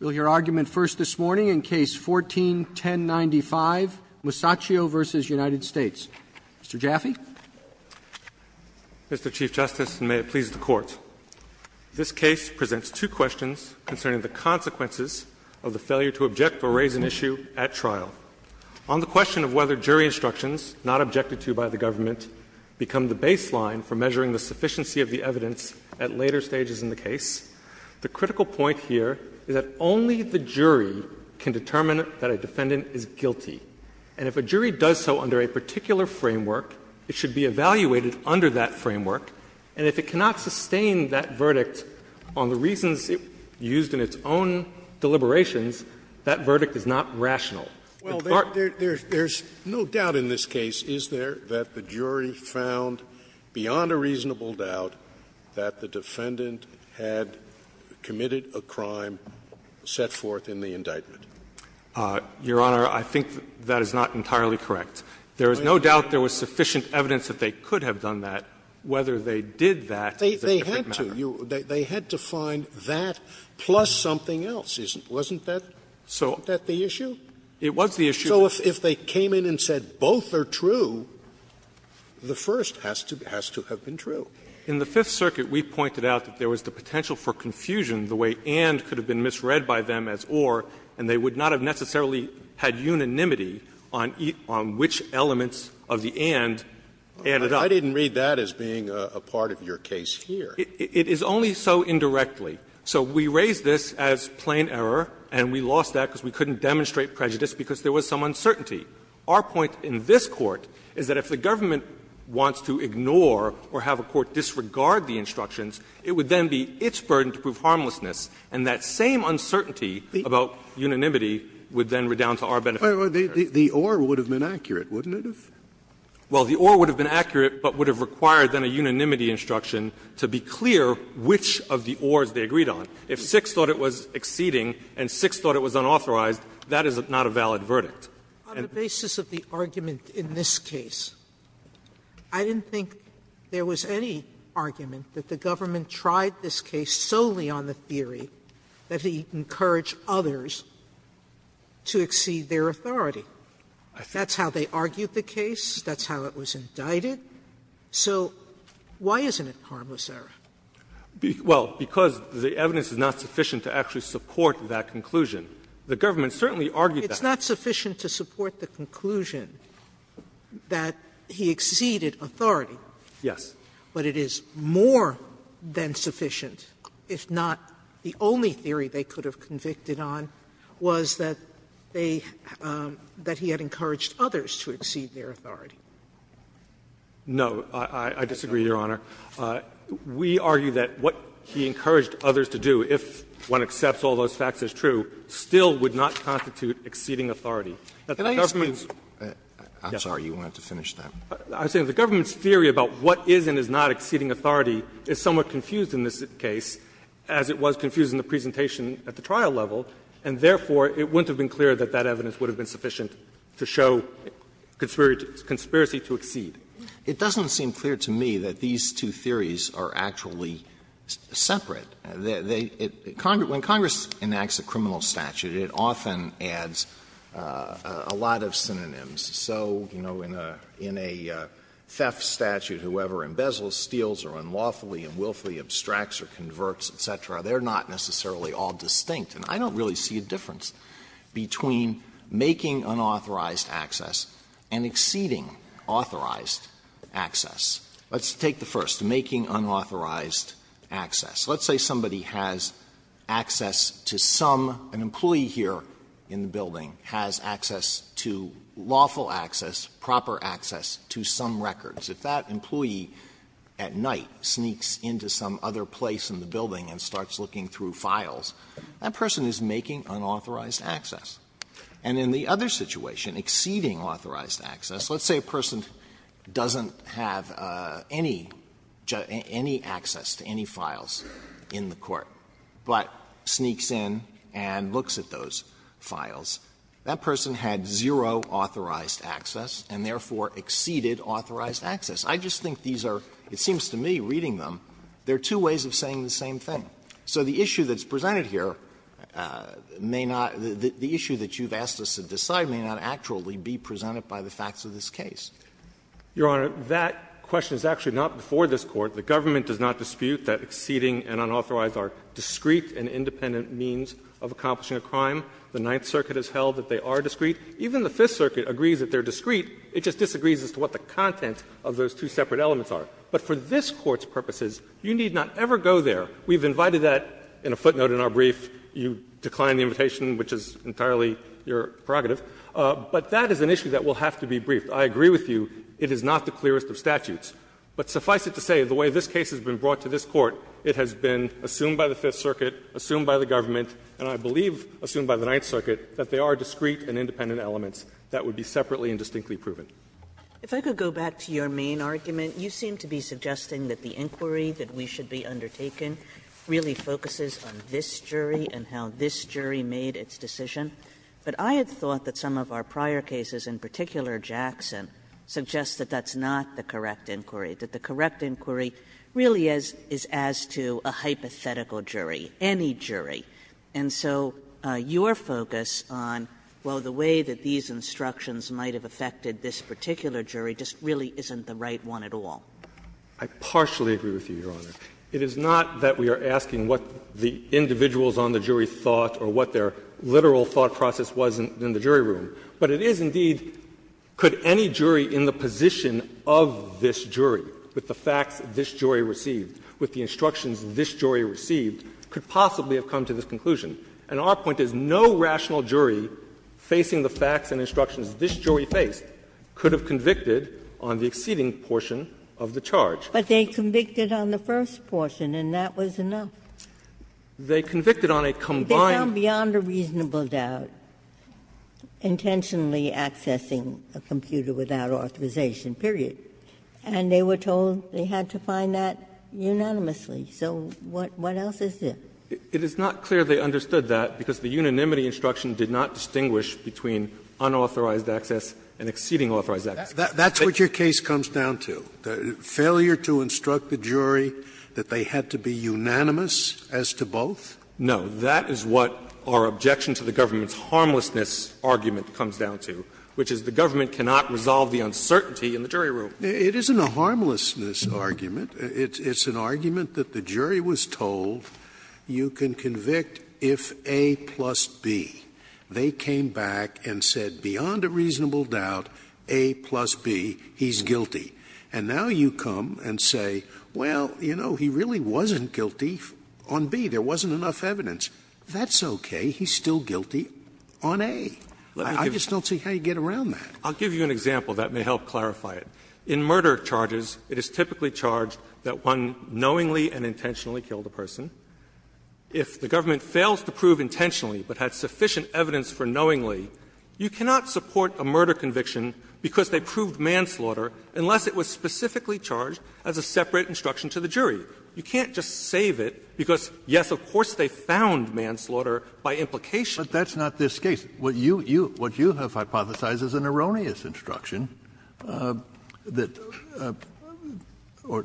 Mr. Jaffee. Mr. Chief Justice, and may it please the Court, this case presents two questions concerning the consequences of the failure to object or raise an issue at trial. On the question of whether jury instructions, not objected to by the government, become the baseline for measuring the sufficiency of the evidence at later stages of the trial? And if the jury does so under a particular framework, it should be evaluated under that framework, and if it cannot sustain that verdict on the reasons used in its own deliberations, that verdict is not rational. Scalia. There's no doubt in this case, is there, that the jury found, beyond a reasonable doubt, that the defendant had committed a crime set forth in the indictment? Your Honor, I think that is not entirely correct. There is no doubt there was sufficient evidence that they could have done that. Whether they did that is a different matter. They had to. They had to find that plus something else, wasn't that the issue? It was the issue. So if they came in and said both are true, the first has to have been true. In the Fifth Circuit, we pointed out that there was the potential for confusion the way and could have been misread by them as or, and they would not have necessarily had unanimity on which elements of the and added up. I didn't read that as being a part of your case here. It is only so indirectly. So we raised this as plain error, and we lost that because we couldn't demonstrate prejudice because there was some uncertainty. Our point in this Court is that if the government wants to ignore or have a court disregard the instructions, it would then be its burden to prove harmlessness, and that same uncertainty about unanimity would then redound to our benefit. Scalia. The or would have been accurate, wouldn't it have? Well, the or would have been accurate, but would have required then a unanimity instruction to be clear which of the ors they agreed on. If six thought it was exceeding and six thought it was unauthorized, that is not a valid verdict. On the basis of the argument in this case, I didn't think there was any argument that the government tried this case solely on the theory that it encouraged others to exceed their authority. That's how they argued the case. That's how it was indicted. So why isn't it harmless error? Well, because the evidence is not sufficient to actually support that conclusion. The government certainly argued that. Sotomayor, it's not sufficient to support the conclusion that he exceeded authority. Yes. But it is more than sufficient, if not the only theory they could have convicted on, was that they had encouraged others to exceed their authority. No. I disagree, Your Honor. We argue that what he encouraged others to do, if one accepts all those facts as true, still would not constitute exceeding authority. That the government's case Can I ask you? I'm sorry. You wanted to finish that. I'm saying the government's theory about what is and is not exceeding authority is somewhat confused in this case, as it was confused in the presentation at the trial level, and therefore it wouldn't have been clear that that evidence would have been sufficient to show conspiracy to exceed. It doesn't seem clear to me that these two theories are actually separate. When Congress enacts a criminal statute, it often adds a lot of synonyms. So, you know, in a theft statute, whoever embezzles, steals, or unlawfully and willfully abstracts or converts, et cetera, they're not necessarily all distinct. And I don't really see a difference between making unauthorized access and exceeding authorized access. Let's take the first, making unauthorized access. Let's say somebody has access to some, an employee here in the building has access to lawful access, proper access to some records. If that employee at night sneaks into some other place in the building and starts looking through files, that person is making unauthorized access. And in the other situation, exceeding authorized access, let's say a person doesn't have any access to any files in the court, but sneaks in and looks at those files, that person had zero authorized access and therefore exceeded authorized access. I just think these are, it seems to me, reading them, they're two ways of saying the same thing. So the issue that's presented here may not the issue that you've asked us to decide may not actually be presented by the facts of this case. Your Honor, that question is actually not before this Court. The government does not dispute that exceeding and unauthorized are discrete and independent means of accomplishing a crime. The Ninth Circuit has held that they are discrete. Even the Fifth Circuit agrees that they're discrete. It just disagrees as to what the content of those two separate elements are. But for this Court's purposes, you need not ever go there. We've invited that in a footnote in our brief. You declined the invitation, which is entirely your prerogative. But that is an issue that will have to be briefed. I agree with you, it is not the clearest of statutes. But suffice it to say, the way this case has been brought to this Court, it has been assumed by the Fifth Circuit, assumed by the government, and I believe assumed by the Ninth Circuit, that they are discrete and independent elements that would be separately and distinctly proven. Kagan If I could go back to your main argument, you seem to be suggesting that the inquiry that we should be undertaking really focuses on this jury and how this jury made its decision. But I had thought that some of our prior cases, in particular Jackson, suggest that that's not the correct inquiry, that the correct inquiry really is as to a hypothetical jury, any jury. And so your focus on, well, the way that these instructions might have affected this particular jury just really isn't the right one at all. Fisher I partially agree with you, Your Honor. It is not that we are asking what the individuals on the jury thought or what their literal thought process was in the jury room, but it is, indeed, could any jury in the position of this jury, with the facts this jury received, with the instructions this jury received, could possibly have come to this conclusion. And our point is no rational jury facing the facts and instructions this jury faced could have convicted on the exceeding portion of the charge. Ginsburg But they convicted on the first portion, and that was enough. Fisher They convicted on a combined. Ginsburg They found beyond a reasonable doubt intentionally accessing a computer without authorization, period. And they were told they had to find that unanimously. So what else is there? Fisher It is not clear they understood that, because the unanimity instruction did not distinguish between unauthorized access and exceeding authorized access. Scalia That's what your case comes down to, failure to instruct the jury that they had to be unanimous as to both? Fisher No. That is what our objection to the government's harmlessness argument comes down to, which is the government cannot resolve the uncertainty in the jury room. Scalia It isn't a harmlessness argument. It's an argument that the jury was told you can convict if A plus B. They came back and said beyond a reasonable doubt, A plus B, he's guilty. And now you come and say, well, you know, he really wasn't guilty on B. There wasn't enough evidence. That's okay. He's still guilty on A. I just don't see how you get around that. Fisher I'll give you an example that may help clarify it. In murder charges, it is typically charged that one knowingly and intentionally killed a person. If the government fails to prove intentionally but had sufficient evidence for knowingly, you cannot support a murder conviction because they proved manslaughter unless it was specifically charged as a separate instruction to the jury. You can't just save it because, yes, of course they found manslaughter by implication. Kennedy But that's not this case. What you have hypothesized is an erroneous instruction that or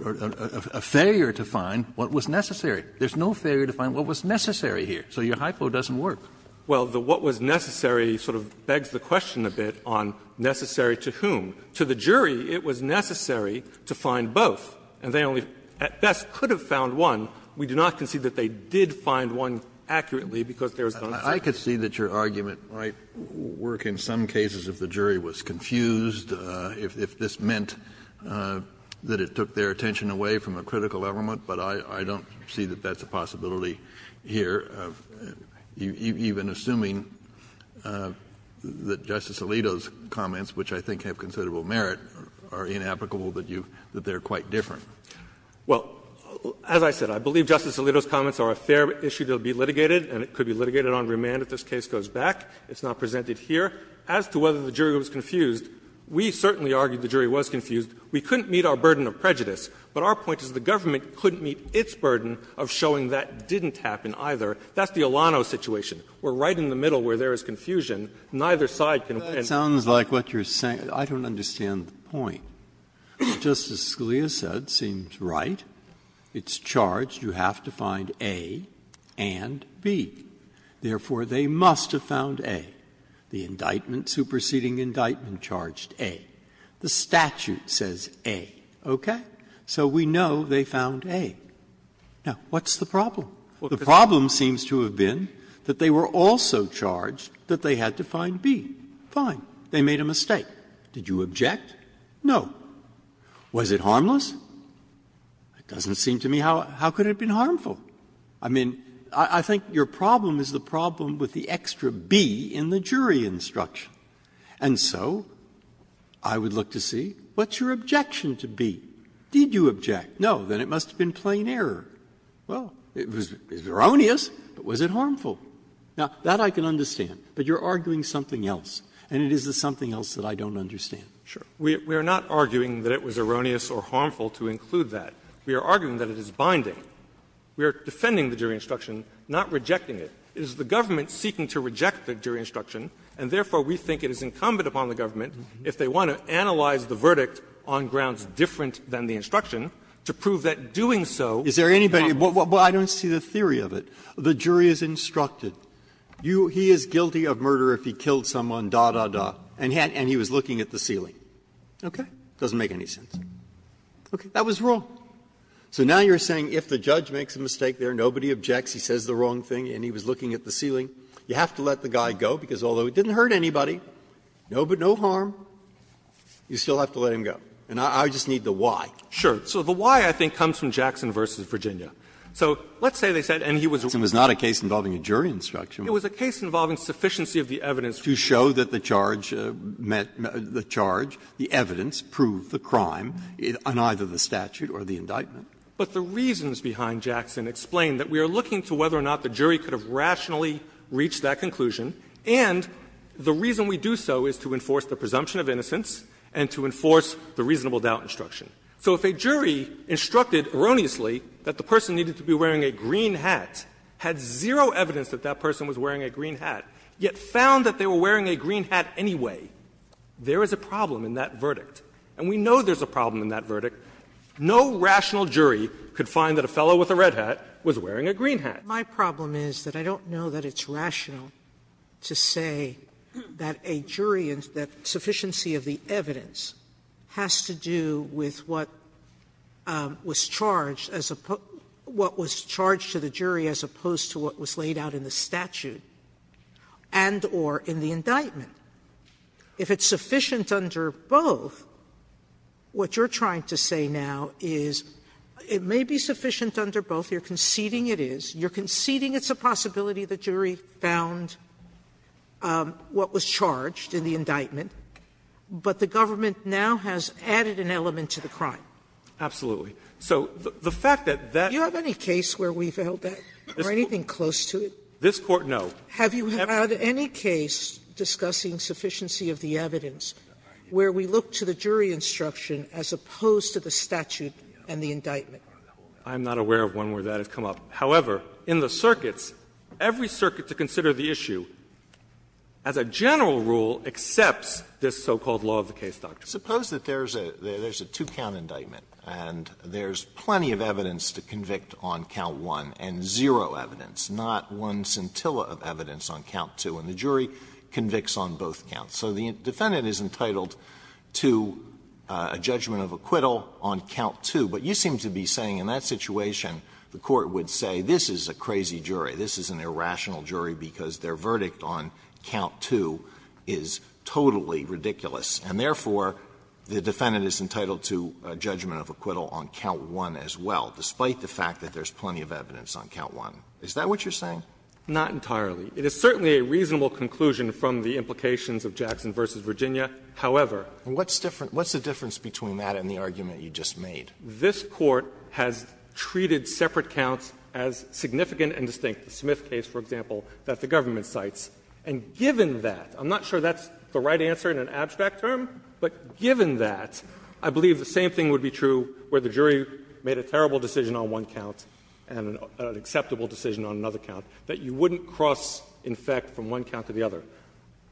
a failure to find what was necessary. There's no failure to find what was necessary here. So your hypo doesn't work. Fisher Well, the what was necessary sort of begs the question a bit on necessary to whom. To the jury, it was necessary to find both. And they only at best could have found one. We do not concede that they did find one accurately because there is no necessity. Kennedy I could see that your argument might work in some cases if the jury was confused, if this meant that it took their attention away from a critical element, but I don't see that that's a possibility here, even assuming that Justice Alito's comments, which I think have considerable merit, are inapplicable, that you – that they are quite different. Fisher Well, as I said, I believe Justice Alito's comments are a fair issue to be litigated and it could be litigated on remand if this case goes back. It's not presented here. As to whether the jury was confused, we certainly argued the jury was confused. We couldn't meet our burden of prejudice, but our point is the government couldn't meet its burden of showing that didn't happen either. That's the Alano situation. We're right in the middle where there is confusion. Breyer That sounds like what you're saying. I don't understand the point. Justice Scalia said, it seems right, it's charged you have to find A and B. Therefore, they must have found A. The indictment, superseding indictment, charged A. The statute says A. Okay? So we know they found A. Now, what's the problem? The problem seems to have been that they were also charged that they had to find B. Fine, they made a mistake. Did you object? No. Was it harmless? It doesn't seem to me how could it have been harmful. I mean, I think your problem is the problem with the extra B in the jury instruction. And so I would look to see what's your objection to B? Did you object? No. Then it must have been plain error. Well, it was erroneous, but was it harmful? Now, that I can understand, but you're arguing something else, and it is the something else that I don't understand. We are not arguing that it was erroneous or harmful to include that. We are arguing that it is binding. We are defending the jury instruction, not rejecting it. It is the government seeking to reject the jury instruction, and therefore, we think it is incumbent upon the government, if they want to analyze the verdict on grounds different than the instruction, to prove that doing so is not harmful. Is there anybody else? Well, I don't see the theory of it. The jury is instructed. He is guilty of murder if he killed someone, da, da, da, and he was looking at the ceiling. Okay? It doesn't make any sense. Okay. That was wrong. So now you're saying if the judge makes a mistake there, nobody objects, he says the wrong thing, and he was looking at the ceiling, you have to let the guy go, because although it didn't hurt anybody, no harm, you still have to let him go. And I just need the why. Sure. So the why, I think, comes from Jackson v. Virginia. So let's say they said, and he was a lawyer. It was not a case involving a jury instruction. It was a case involving sufficiency of the evidence. To show that the charge met the charge, the evidence proved the crime on either the statute or the indictment. But the reasons behind Jackson explain that we are looking to whether or not the jury could have rationally reached that conclusion, and the reason we do so is to enforce the presumption of innocence and to enforce the reasonable doubt instruction. So if a jury instructed erroneously that the person needed to be wearing a green hat, had zero evidence that that person was wearing a green hat, yet found that they were wearing a green hat anyway, there is a problem in that verdict. And we know there's a problem in that verdict. No rational jury could find that a fellow with a red hat was wearing a green hat. Sotomayor, my problem is that I don't know that it's rational to say that a jury and that sufficiency of the evidence has to do with what was charged as opposed to what was laid out in the statute and or in the indictment. If it's sufficient under both, what you're trying to say now is it may be sufficient under both. You're conceding it is. You're conceding it's a possibility the jury found what was charged in the indictment, Absolutely. So the fact that that's Sotomayor, do you have any case where we've held that or anything close to it? This Court, no. Have you had any case discussing sufficiency of the evidence where we look to the jury instruction as opposed to the statute and the indictment? I'm not aware of one where that has come up. However, in the circuits, every circuit to consider the issue, as a general rule, accepts this so-called law of the case doctrine. Suppose that there's a two-count indictment and there's plenty of evidence to convict on count one and zero evidence, not one scintilla of evidence on count two, and the jury convicts on both counts. So the defendant is entitled to a judgment of acquittal on count two. But you seem to be saying in that situation the Court would say this is a crazy jury, this is an irrational jury because their verdict on count two is totally ridiculous, and therefore, the defendant is entitled to a judgment of acquittal on count one as well, despite the fact that there's plenty of evidence on count one. Is that what you're saying? Not entirely. It is certainly a reasonable conclusion from the implications of Jackson v. Virginia. However, what's the difference between that and the argument you just made? This Court has treated separate counts as significant and distinct. The Smith case, for example, that the government cites, and given that, I'm not sure that's the right answer in an abstract term, but given that, I believe the same thing would be true where the jury made a terrible decision on one count and an acceptable decision on another count, that you wouldn't cross, in fact, from one count to the other.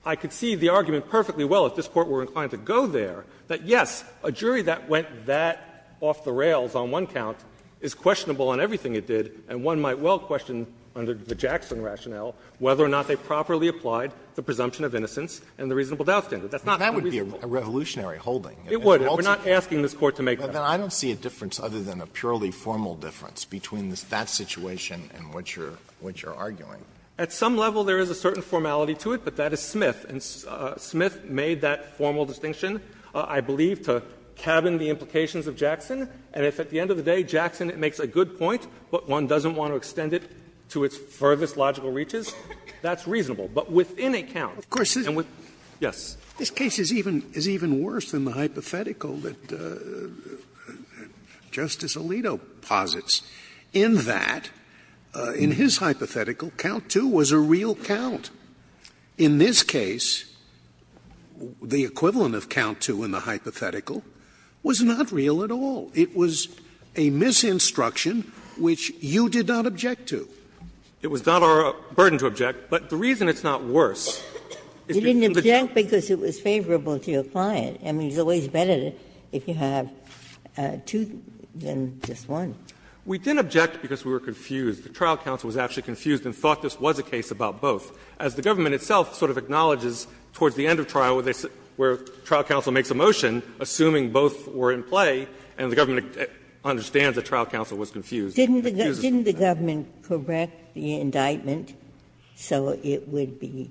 I could see the argument perfectly well, if this Court were inclined to go there, that yes, a jury that went that off the rails on one count is questionable on everything it did, and one might well question under the Jackson rationale whether or not they properly applied the presumption of innocence and the reasonable doubt standard. That's not unreasonable. Alito, that would be a revolutionary holding. It would. We're not asking this Court to make that. But then I don't see a difference other than a purely formal difference between that situation and what you're arguing. At some level, there is a certain formality to it, but that is Smith. And Smith made that formal distinction, I believe, to cabin the implications of Jackson, and if at the end of the day Jackson makes a good point, but one doesn't want to extend it to its furthest logical reaches, that's reasonable. But within a count, and within a count, and within a count, and within a count. Scalia, of course, this case is even worse than the hypothetical that Justice Alito posits, in that, in his hypothetical, count two was a real count. In this case, the equivalent of count two in the hypothetical was not real at all. It was a misinstruction, which you did not object to. It was not our burden to object, but the reason it's not worse is because of the Ginsburg, you didn't object because it was favorable to your client. I mean, it's always better if you have two than just one. We didn't object because we were confused. The trial counsel was actually confused and thought this was a case about both. As the government itself sort of acknowledges towards the end of trial, where trial counsel makes a motion, assuming both were in play, and the government understands that trial counsel was confused, it confuses them. Ginsburg Didn't the government correct the indictment so it would be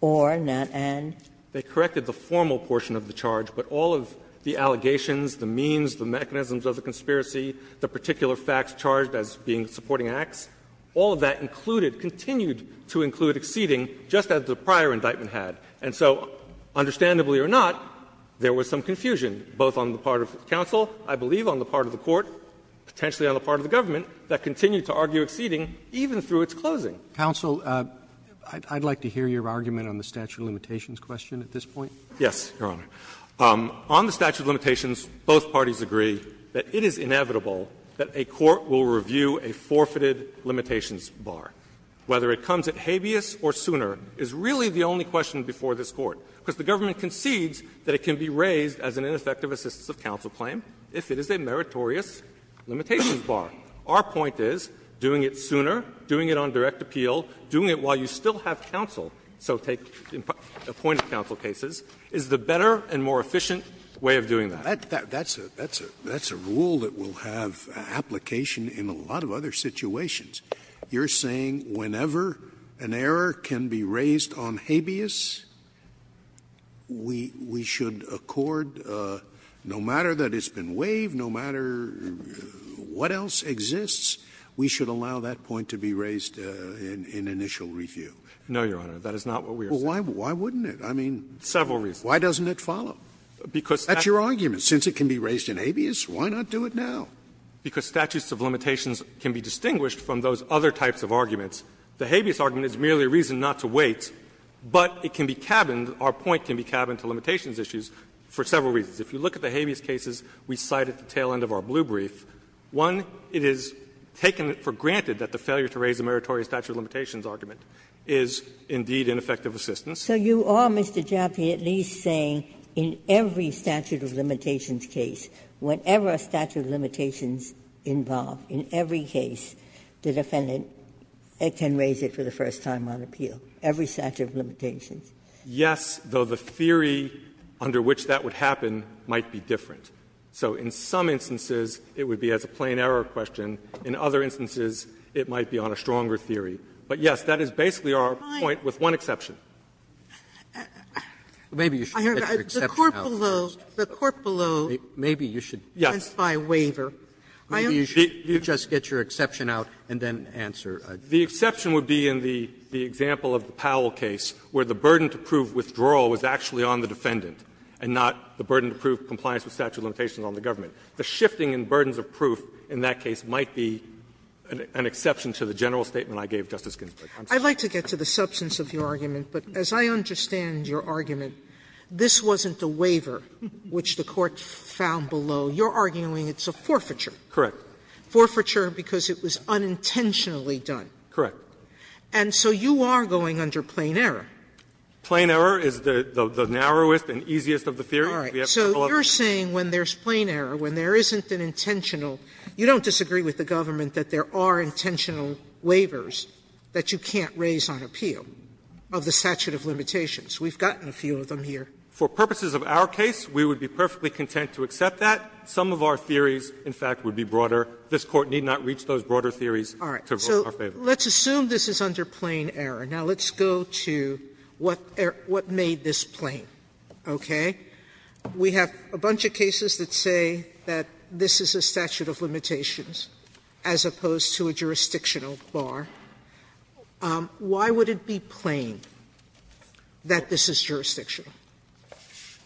or, not and? They corrected the formal portion of the charge, but all of the allegations, the means, the mechanisms of the conspiracy, the particular facts charged as being supporting acts, all of that included, continued to include, exceeding just as the prior indictment had. And so, understandably or not, there was some confusion, both on the part of counsel, I believe, on the part of the court, potentially on the part of the government, that continued to argue exceeding even through its closing. Roberts Counsel, I'd like to hear your argument on the statute of limitations question at this point. Yes, Your Honor. On the statute of limitations, both parties agree that it is inevitable that a court will review a forfeited limitations bar. Whether it comes at habeas or sooner is really the only question before this Court, because the government concedes that it can be raised as an ineffective assistance of counsel claim if it is a meritorious limitations bar. Our point is, doing it sooner, doing it on direct appeal, doing it while you still have counsel, so take appointed counsel cases, is the better and more efficient way of doing that. Scalia That's a rule that will have application in a lot of other situations. You're saying whenever an error can be raised on habeas, we should accord, no matter that it's been waived, no matter what else exists, we should allow that point to be raised in initial review? Roberts No, Your Honor. That is not what we are saying. Scalia Well, why wouldn't it? I mean, why doesn't it follow? That's your argument. Since it can be raised in habeas, why not do it now? Roberts Because statutes of limitations can be distinguished from those other types of arguments. The habeas argument is merely a reason not to wait, but it can be cabined, our point can be cabined to limitations issues for several reasons. If you look at the habeas cases we cite at the tail end of our blue brief, one, it is taken for granted that the failure to raise a meritorious statute of limitations argument is indeed ineffective assistance. Ginsburg So you are, Mr. Jaffe, at least saying in every statute of limitations case, whatever statute of limitations involved, in every case, the defendant can raise it for the first time on appeal, every statute of limitations? Roberts Yes, though the theory under which that would happen might be different. So in some instances it would be as a plain error question. In other instances it might be on a stronger theory. But yes, that is basically our point, with one exception. Sotomayor Maybe you should get your exception out. Sotomayor The court below, the court below, by waiver, I don't think Roberts Maybe you should just get your exception out and then answer. The exception would be in the example of the Powell case, where the burden to prove withdrawal was actually on the defendant, and not the burden to prove compliance with statute of limitations on the government. The shifting in burdens of proof in that case might be an exception to the general statement I gave Justice Ginsburg. Sotomayor I'd like to get to the substance of your argument, but as I understand your argument, this wasn't a waiver which the court found below. You're arguing it's a forfeiture. Roberts Correct. Sotomayor Forfeiture because it was unintentionally done. Roberts Correct. Sotomayor And so you are going under plain error. Roberts Plain error is the narrowest and easiest of the theory. Sotomayor All right. So you're saying when there's plain error, when there isn't an intentional you don't disagree with the government that there are intentional waivers that you can't raise on appeal of the statute of limitations. We've gotten a few of them here. Roberts For purposes of our case, we would be perfectly content to accept that. Some of our theories, in fact, would be broader. This Court need not reach those broader theories to vote in our favor. Sotomayor All right. So let's assume this is under plain error. Now, let's go to what made this plain. Okay? We have a bunch of cases that say that this is a statute of limitations as opposed to a jurisdictional bar. Why would it be plain that this is jurisdictional?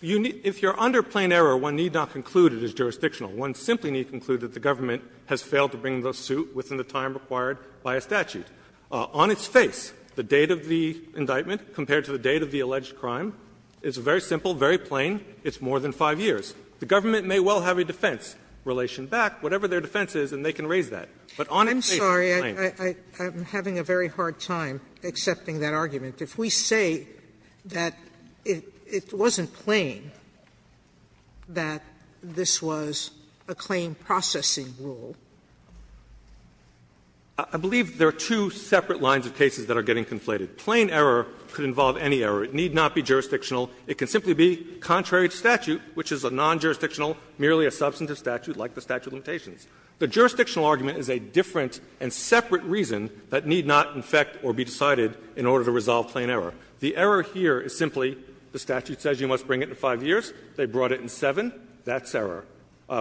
Roberts If you're under plain error, one need not conclude it is jurisdictional. One simply need conclude that the government has failed to bring the suit within the time required by a statute. On its face, the date of the indictment compared to the date of the alleged crime is very simple, very plain. It's more than 5 years. The government may well have a defense relation back, whatever their defense is, and they can raise that. But on its face, it's plain. Sotomayor I'm having a very hard time accepting that argument. If we say that it wasn't plain, that this was a claim processing rule. Roberts I believe there are two separate lines of cases that are getting conflated. Plain error could involve any error. It need not be jurisdictional. It can simply be contrary to statute, which is a non-jurisdictional, merely a substantive statute like the statute of limitations. The jurisdictional argument is a different and separate reason that need not infect or be decided in order to resolve plain error. The error here is simply the statute says you must bring it in 5 years. They brought it in 7. That's error.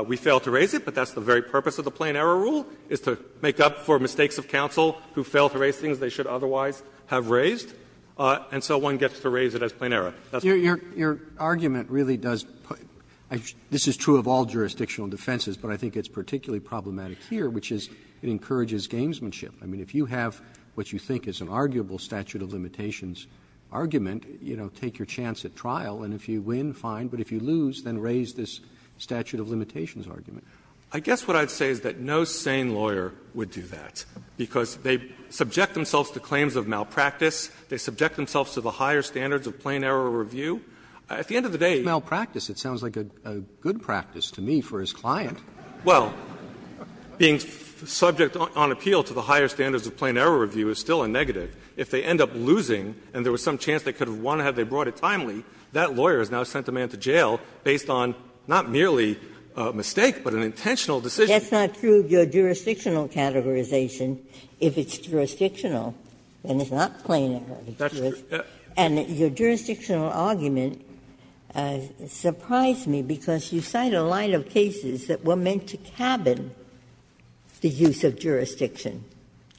We fail to raise it, but that's the very purpose of the plain error rule, is to make up for mistakes of counsel who fail to raise things they should otherwise have raised. And so one gets to raise it as plain error. That's what it is. Roberts Your argument really does put this is true of all jurisdictional defenses, but I think it's particularly problematic here, which is it encourages gamesmanship. I mean, if you have what you think is an arguable statute of limitations argument, you know, take your chance at trial, and if you win, fine, but if you lose, then raise this statute of limitations argument. I guess what I'd say is that no sane lawyer would do that, because they subject themselves to claims of malpractice. They subject themselves to the higher standards of plain error review. At the end of the day, it's malpractice. It sounds like a good practice to me for his client. Well, being subject on appeal to the higher standards of plain error review is still a negative. If they end up losing and there was some chance they could have won had they brought it timely, that lawyer has now sent the man to jail based on not merely a mistake, but an intentional decision. Ginsburg That's not true of your jurisdictional categorization if it's jurisdictional and it's not plain error. And your jurisdictional argument surprised me, because you cite a line of cases that were meant to cabin the use of jurisdiction.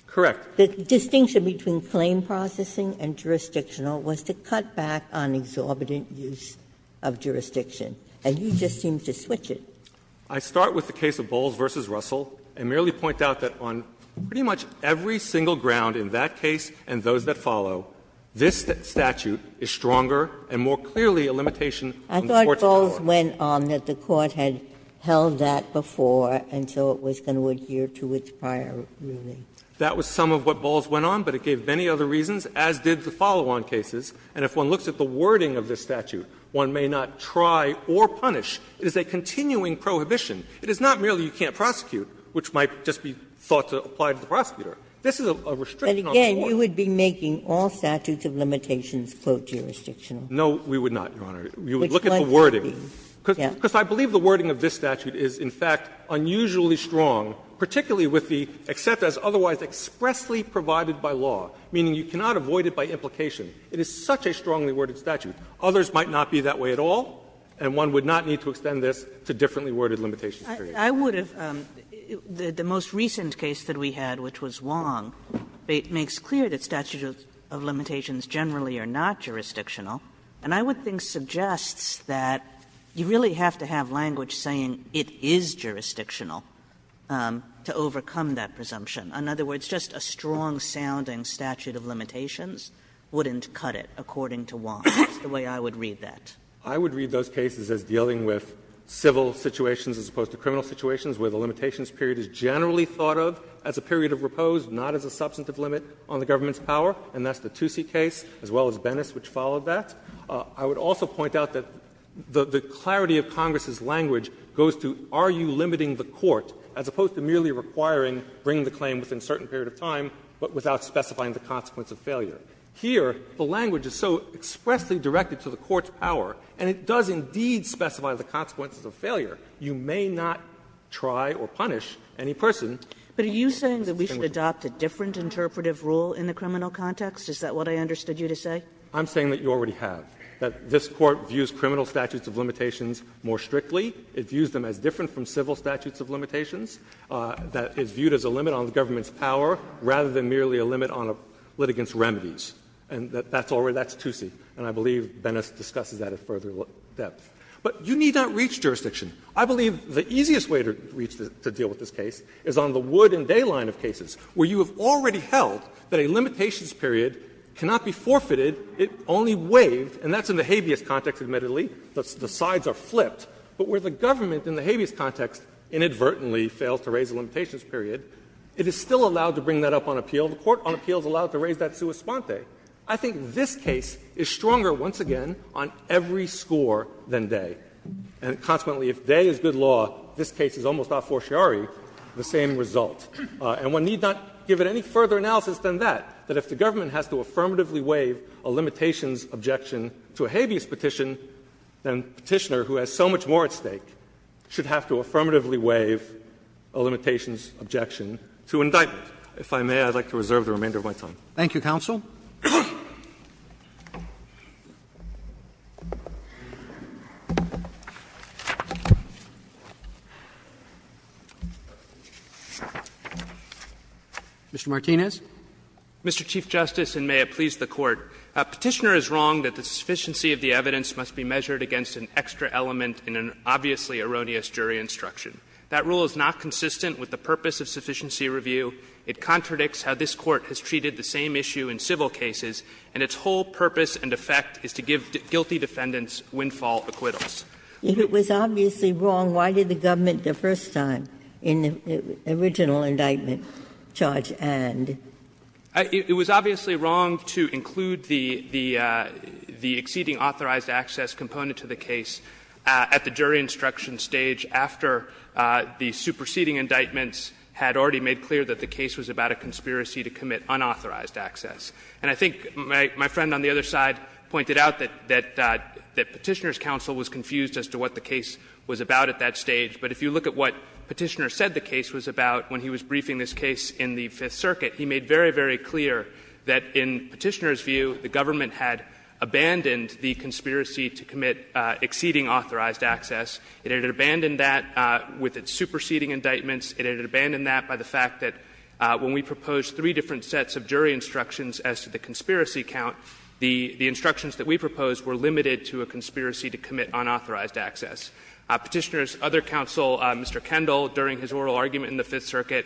Correct. Ginsburg The distinction between plain processing and jurisdictional was to cut back on exorbitant use of jurisdiction, and you just seem to switch it. Fisher I start with the case of Bowles v. Russell and merely point out that on pretty much every single ground in that case and those that follow, this statute is stronger and more clearly a limitation on the court's power. And it wasn't on that the court had held that before, and so it was going to adhere to its prior ruling. Fisher That was some of what Bowles went on, but it gave many other reasons, as did the follow-on cases. And if one looks at the wording of this statute, one may not try or punish. It is a continuing prohibition. It is not merely you can't prosecute, which might just be thought to apply to the prosecutor. This is a restriction on the court. Ginsburg But again, you would be making all statutes of limitations, quote, jurisdictional. Fisher No, we would not, Your Honor. We would look at the wording. Because I believe the wording of this statute is, in fact, unusually strong, particularly with the except as otherwise expressly provided by law, meaning you cannot avoid it by implication. It is such a strongly worded statute. Others might not be that way at all, and one would not need to extend this to differently worded limitations. Kagan I would have the most recent case that we had, which was Wong, makes clear that statutes of limitations generally are not jurisdictional. And I would think suggests that you really have to have language saying it is jurisdictional to overcome that presumption. In other words, just a strong sounding statute of limitations wouldn't cut it, according to Wong. That's the way I would read that. Fisher I would read those cases as dealing with civil situations as opposed to criminal situations, where the limitations period is generally thought of as a period of repose, not as a substantive limit on the government's power. And that's the Toosie case, as well as Bennis, which followed that. I would also point out that the clarity of Congress's language goes to, are you limiting the court, as opposed to merely requiring bring the claim within a certain period of time, but without specifying the consequence of failure. Here, the language is so expressly directed to the court's power, and it does indeed specify the consequences of failure. You may not try or punish any person. Kagan But are you saying that we should adopt a different interpretive rule in the criminal context? Is that what I understood you to say? Fisher I'm saying that you already have, that this Court views criminal statutes of limitations more strictly. It views them as different from civil statutes of limitations. That it's viewed as a limit on the government's power, rather than merely a limit on a litigant's remedies. And that's already the Toosie, and I believe Bennis discusses that at further depth. But you need not reach jurisdiction. I believe the easiest way to reach, to deal with this case, is on the wood and day line of cases, where you have already held that a limitations period cannot be forfeited, it only waived, and that's in the habeas context, admittedly. The sides are flipped. But where the government in the habeas context inadvertently fails to raise a limitations period, it is still allowed to bring that up on appeal. The court on appeal is allowed to raise that sua sponte. I think this case is stronger, once again, on every score than day. And consequently, if day is good law, this case is almost a fortiori, the same result. And one need not give it any further analysis than that, that if the government has to affirmatively waive a limitations objection to a habeas petition, then Petitioner, who has so much more at stake, should have to affirmatively waive a limitations objection to indictment. If I may, I would like to reserve the remainder of my time. Roberts Thank you, counsel. Mr. Martinez. Martinez, Mr. Chief Justice, and may it please the Court. Petitioner is wrong that the sufficiency of the evidence must be measured against an extra element in an obviously erroneous jury instruction. That rule is not consistent with the purpose of sufficiency review. It contradicts how this Court has treated the same issue in civil cases, and its whole purpose and effect is to give guilty defendants windfall acquittals. Ginsburg If it was obviously wrong, why did the government the first time, in the original indictment, charge and? Petitioner It was obviously wrong to include the exceeding authorized access component to the case at the jury instruction stage after the superseding indictments had already made clear that the case was about a conspiracy to commit unauthorized access. And I think my friend on the other side pointed out that Petitioner's counsel was confused as to what the case was about at that stage. But if you look at what Petitioner said the case was about when he was briefing this case in the Fifth Circuit, he made very, very clear that in Petitioner's view, the government had abandoned the conspiracy to commit exceeding authorized access. It had abandoned that with its superseding indictments. It had abandoned that by the fact that when we proposed three different sets of jury instructions as to the conspiracy count, the instructions that we proposed were limited to a conspiracy to commit unauthorized access. Petitioner's other counsel, Mr. Kendall, during his oral argument in the Fifth Circuit,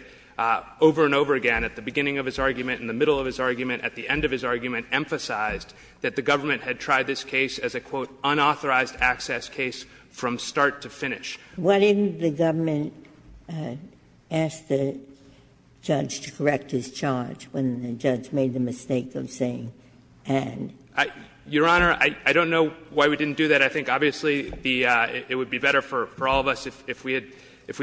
over and over again, at the beginning of his argument, in the middle of his argument, at the end of his argument, emphasized that the government had tried this case as a, quote, unauthorized access case from start to finish. Ginsburg-Miller What if the government asked the judge to correct his charge when the judge made the mistake of saying, and? Fisherman Your Honor, I don't know why we didn't do that. I think obviously the – it would be better for all of us if we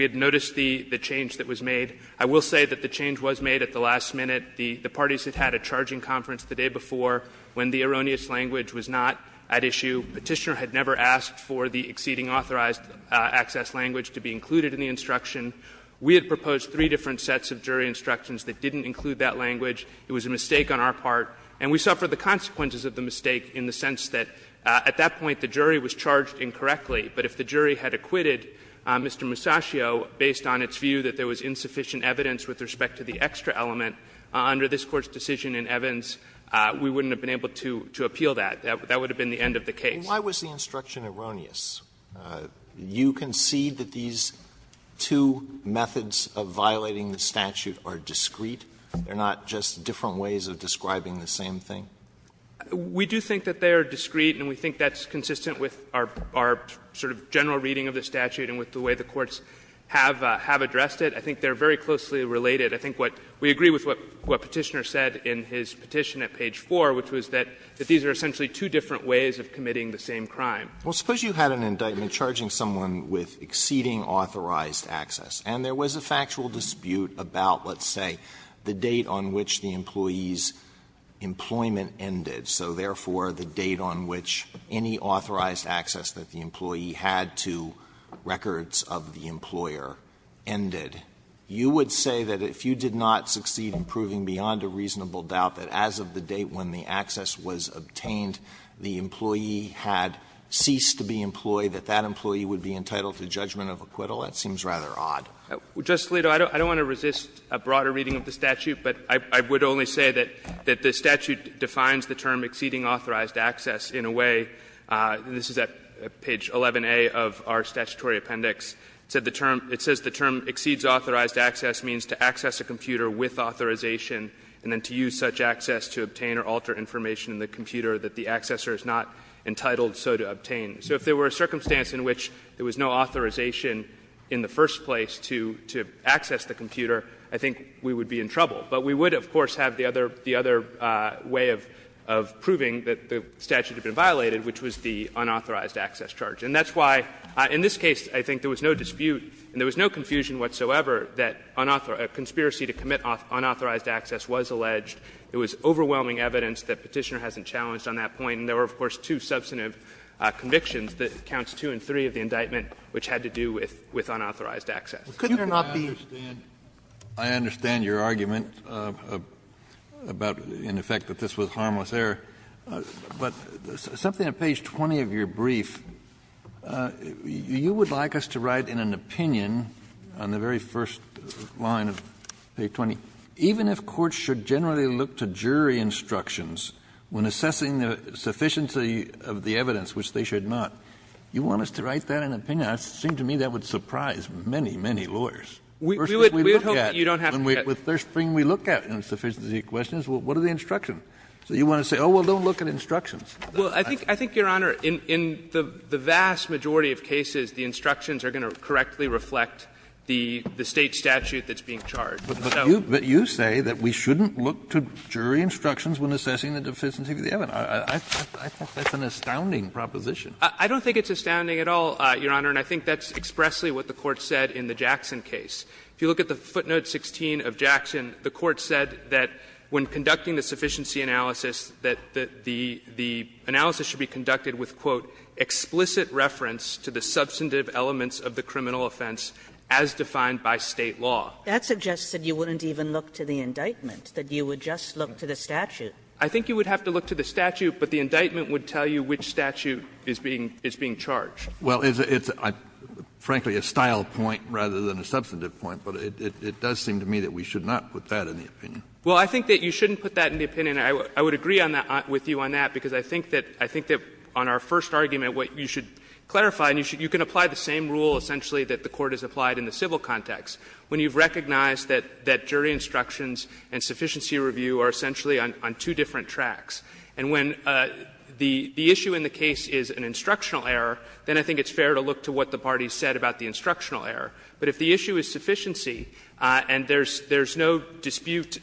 had noticed the change that was made. I will say that the change was made at the last minute. The parties had had a charging conference the day before when the erroneous language was not at issue. Petitioner had never asked for the exceeding authorized access language to be included in the instruction. We had proposed three different sets of jury instructions that didn't include that language. It was a mistake on our part. And we suffered the consequences of the mistake in the sense that at that point the jury was charged incorrectly. But if the jury had acquitted Mr. Musascio based on its view that there was insufficient evidence with respect to the extra element, under this Court's decision in Evans, we wouldn't have been able to appeal that. That would have been the end of the case. Alito And why was the instruction erroneous? You concede that these two methods of violating the statute are discreet? They're not just different ways of describing the same thing? Fisherman We do think that they are discreet, and we think that's consistent with our sort of general reading of the statute and with the way the courts have addressed it. I think they are very closely related. I think what we agree with what Petitioner said in his petition at page 4, which was that these are essentially two different ways of committing the same crime. Alito Well, suppose you had an indictment charging someone with exceeding authorized access, and there was a factual dispute about, let's say, the date on which the employee's employment ended. So, therefore, the date on which any authorized access that the employee had to records of the employer ended, you would say that if you did not succeed in proving beyond a reasonable doubt that as of the date when the access was obtained, the employee had ceased to be employed, that that employee would be entitled to judgment of acquittal? That seems rather odd. Fisherman Just, Alito, I don't want to resist a broader reading of the statute, but I would only say that the statute defines the term exceeding authorized access in a way, this is at page 11a of our statutory appendix, said the term, it says the term exceeds authorized access means to access a computer with authorization and then to use such access to obtain or alter information in the computer that the accessor is not entitled so to obtain. So if there were a circumstance in which there was no authorization in the first place to access the computer, I think we would be in trouble. But we would, of course, have the other way of proving that the statute had been violated, which was the unauthorized access charge. And that's why, in this case, I think there was no dispute and there was no confusion whatsoever that a conspiracy to commit unauthorized access was alleged. It was overwhelming evidence that Petitioner hasn't challenged on that point. And there were, of course, two substantive convictions, counts 2 and 3 of the indictment, which had to do with unauthorized access. Kennedy, I understand your argument about, in effect, that this was harmless error. But something on page 20 of your brief, you would like us to write in an opinion on the very first line of page 20, even if courts should generally look to jury instructions when assessing the sufficiency of the evidence, which they should not, you want us to write that in an opinion. It seems to me that would surprise many, many lawyers. First, what we look at when we look at insufficiency questions, what are the instructions? So you want to say, oh, well, don't look at instructions. Well, I think, Your Honor, in the vast majority of cases, the instructions are going to correctly reflect the State statute that's being charged. Kennedy, but you say that we shouldn't look to jury instructions when assessing the sufficiency of the evidence. I think that's an astounding proposition. I don't think it's astounding at all, Your Honor, and I think that's expressly what the Court said in the Jackson case. If you look at the footnote 16 of Jackson, the Court said that when conducting the sufficiency analysis, that the analysis should be conducted with, quote, explicit reference to the substantive elements of the criminal offense as defined by State law. Kagan That suggests that you wouldn't even look to the indictment, that you would just look to the statute. I think you would have to look to the statute, but the indictment would tell you which statute is being charged. Well, it's, frankly, a style point rather than a substantive point, but it does seem to me that we should not put that in the opinion. Well, I think that you shouldn't put that in the opinion. I would agree with you on that, because I think that on our first argument, what you should clarify, and you can apply the same rule, essentially, that the Court has applied in the civil context, when you've recognized that jury instructions and sufficiency review are essentially on two different tracks. And when the issue in the case is an instructional error, then I think it's fair to look to what the parties said about the instructional error. But if the issue is sufficiency, and there's no dispute,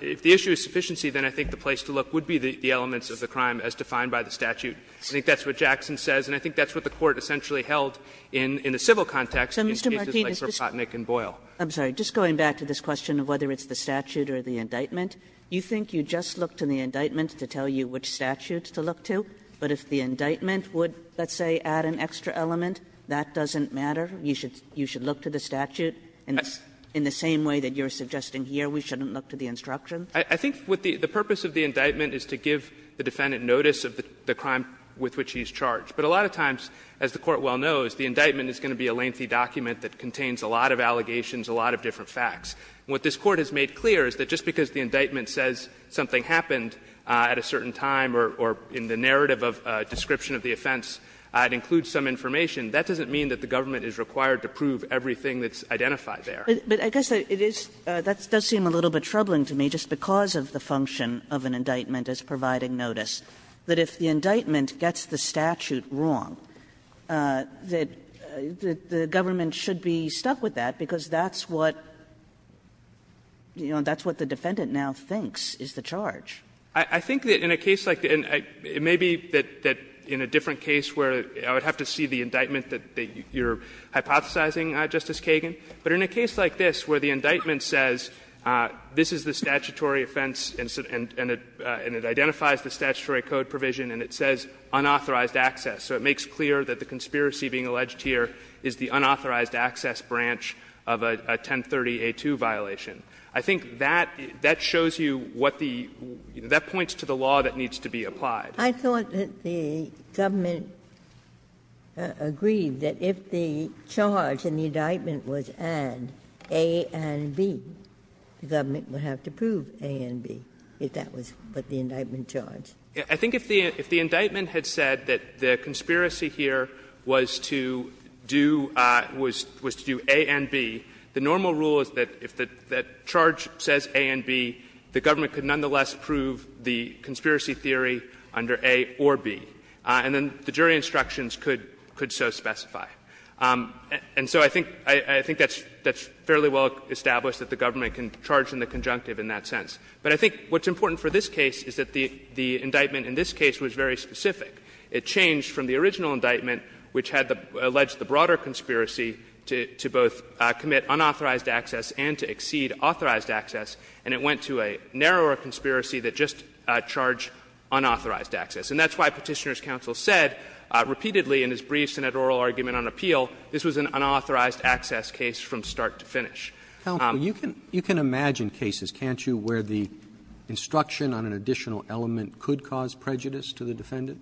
if the issue is sufficiency, then I think the place to look would be the elements of the crime as defined by the statute. I think that's what Jackson says, and I think that's what the Court essentially held in the civil context in cases like Kropotnick and Boyle. Kagan I'm sorry. Just going back to this question of whether it's the statute or the indictment, you think you just look to the indictment to tell you which statute to look to, but if the indictment would, let's say, add an extra element, that doesn't matter? You should look to the statute in the same way that you're suggesting here we shouldn't look to the instructions? I think the purpose of the indictment is to give the defendant notice of the crime with which he's charged. But a lot of times, as the Court well knows, the indictment is going to be a lengthy document that contains a lot of allegations, a lot of different facts. What this Court has made clear is that just because the indictment says something happened at a certain time or in the narrative of description of the offense, it includes some information, that doesn't mean that the government is required to prove everything that's identified there. Kagan But I guess it is that does seem a little bit troubling to me just because of the defendant gets the statute wrong, that the government should be stuck with that because that's what, you know, that's what the defendant now thinks is the charge. I think that in a case like the end, it may be that in a different case where I would have to see the indictment that you're hypothesizing, Justice Kagan, but in a case like this where the indictment says this is the statutory offense and it identifies the statutory code provision and it says unauthorized access, so it makes clear that the conspiracy being alleged here is the unauthorized access branch of a 1030-A2 violation. I think that shows you what the — that points to the law that needs to be applied. Ginsburg I thought that the government agreed that if the charge in the indictment was add A and B, the government would have to prove A and B if that was what the indictment charged. Kagan I think if the indictment had said that the conspiracy here was to do — was to do A and B, the normal rule is that if that charge says A and B, the government could nonetheless prove the conspiracy theory under A or B. And then the jury instructions could so specify. And so I think — I think that's fairly well established that the government can charge in the conjunctive in that sense. But I think what's important for this case is that the indictment in this case was very specific. It changed from the original indictment, which had alleged the broader conspiracy to both commit unauthorized access and to exceed authorized access, and it went to a narrower conspiracy that just charged unauthorized access. And that's why Petitioner's counsel said repeatedly in his brief Senate oral argument on appeal, this was an unauthorized access case from start to finish. Roberts Counsel, you can imagine cases, can't you, where the instruction on an additional element could cause prejudice to the defendant?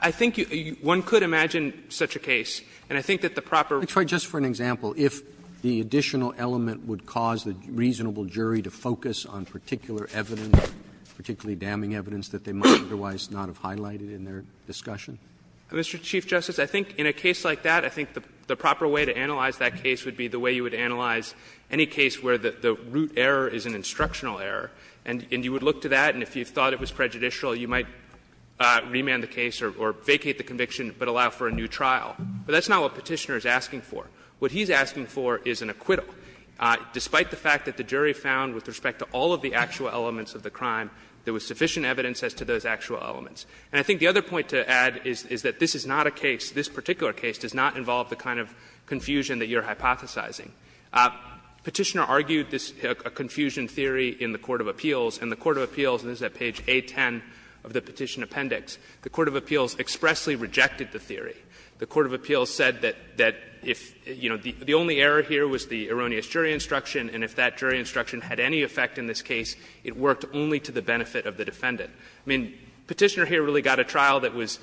I think one could imagine such a case, and I think that the proper — Let me try just for an example. If the additional element would cause the reasonable jury to focus on particular evidence, particularly damning evidence that they might otherwise not have highlighted in their discussion? Mr. Chief Justice, I think in a case like that, I think the proper way to analyze that case would be the way you would analyze any case where the root error is an instructional error, and you would look to that, and if you thought it was prejudicial, you might remand the case or vacate the conviction but allow for a new trial. But that's not what Petitioner is asking for. What he's asking for is an acquittal, despite the fact that the jury found with respect to all of the actual elements of the crime, there was sufficient evidence as to those actual elements. And I think the other point to add is that this is not a case, this particular case, does not involve the kind of confusion that you're hypothesizing. Petitioner argued this confusion theory in the Court of Appeals, and the Court of Appeals — and this is at page A-10 of the Petition Appendix — the Court of Appeals expressly rejected the theory. The Court of Appeals said that if, you know, the only error here was the erroneous jury instruction, and if that jury instruction had any effect in this case, it worked only to the benefit of the defendant. I mean, Petitioner here really got a trial that was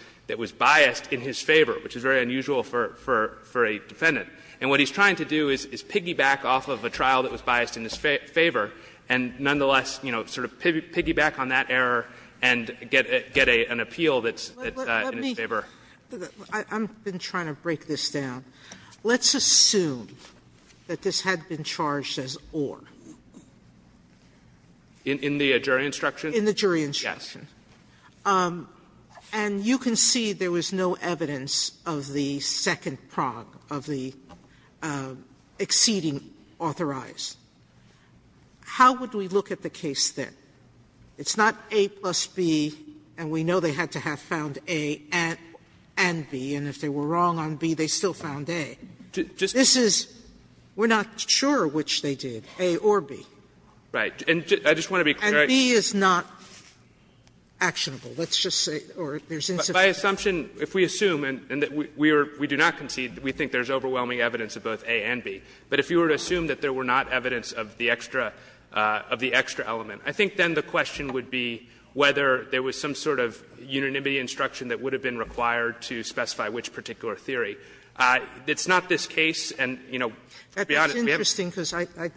biased in his favor, which is very unusual for a defendant. And what he's trying to do is piggyback off of a trial that was biased in his favor and nonetheless, you know, sort of piggyback on that error and get an appeal that's in his favor. Sotomayor, I'm trying to break this down. Let's assume that this had been charged as or. In the jury instruction? In the jury instruction. And you can see there was no evidence of the second prog, of the exceeding authorized. How would we look at the case then? It's not A plus B, and we know they had to have found A and B, and if they were wrong on B, they still found A. This is — we're not sure which they did, A or B. Right. And I just want to be clear. And B is not actionable. Let's just say, or there's insufficient evidence. By assumption, if we assume, and we do not concede, we think there's overwhelming evidence of both A and B. But if you were to assume that there were not evidence of the extra element, I think then the question would be whether there was some sort of unanimity instruction that would have been required to specify which particular theory. It's not this case, and, you know, to be honest, we have to. That's interesting, because I'm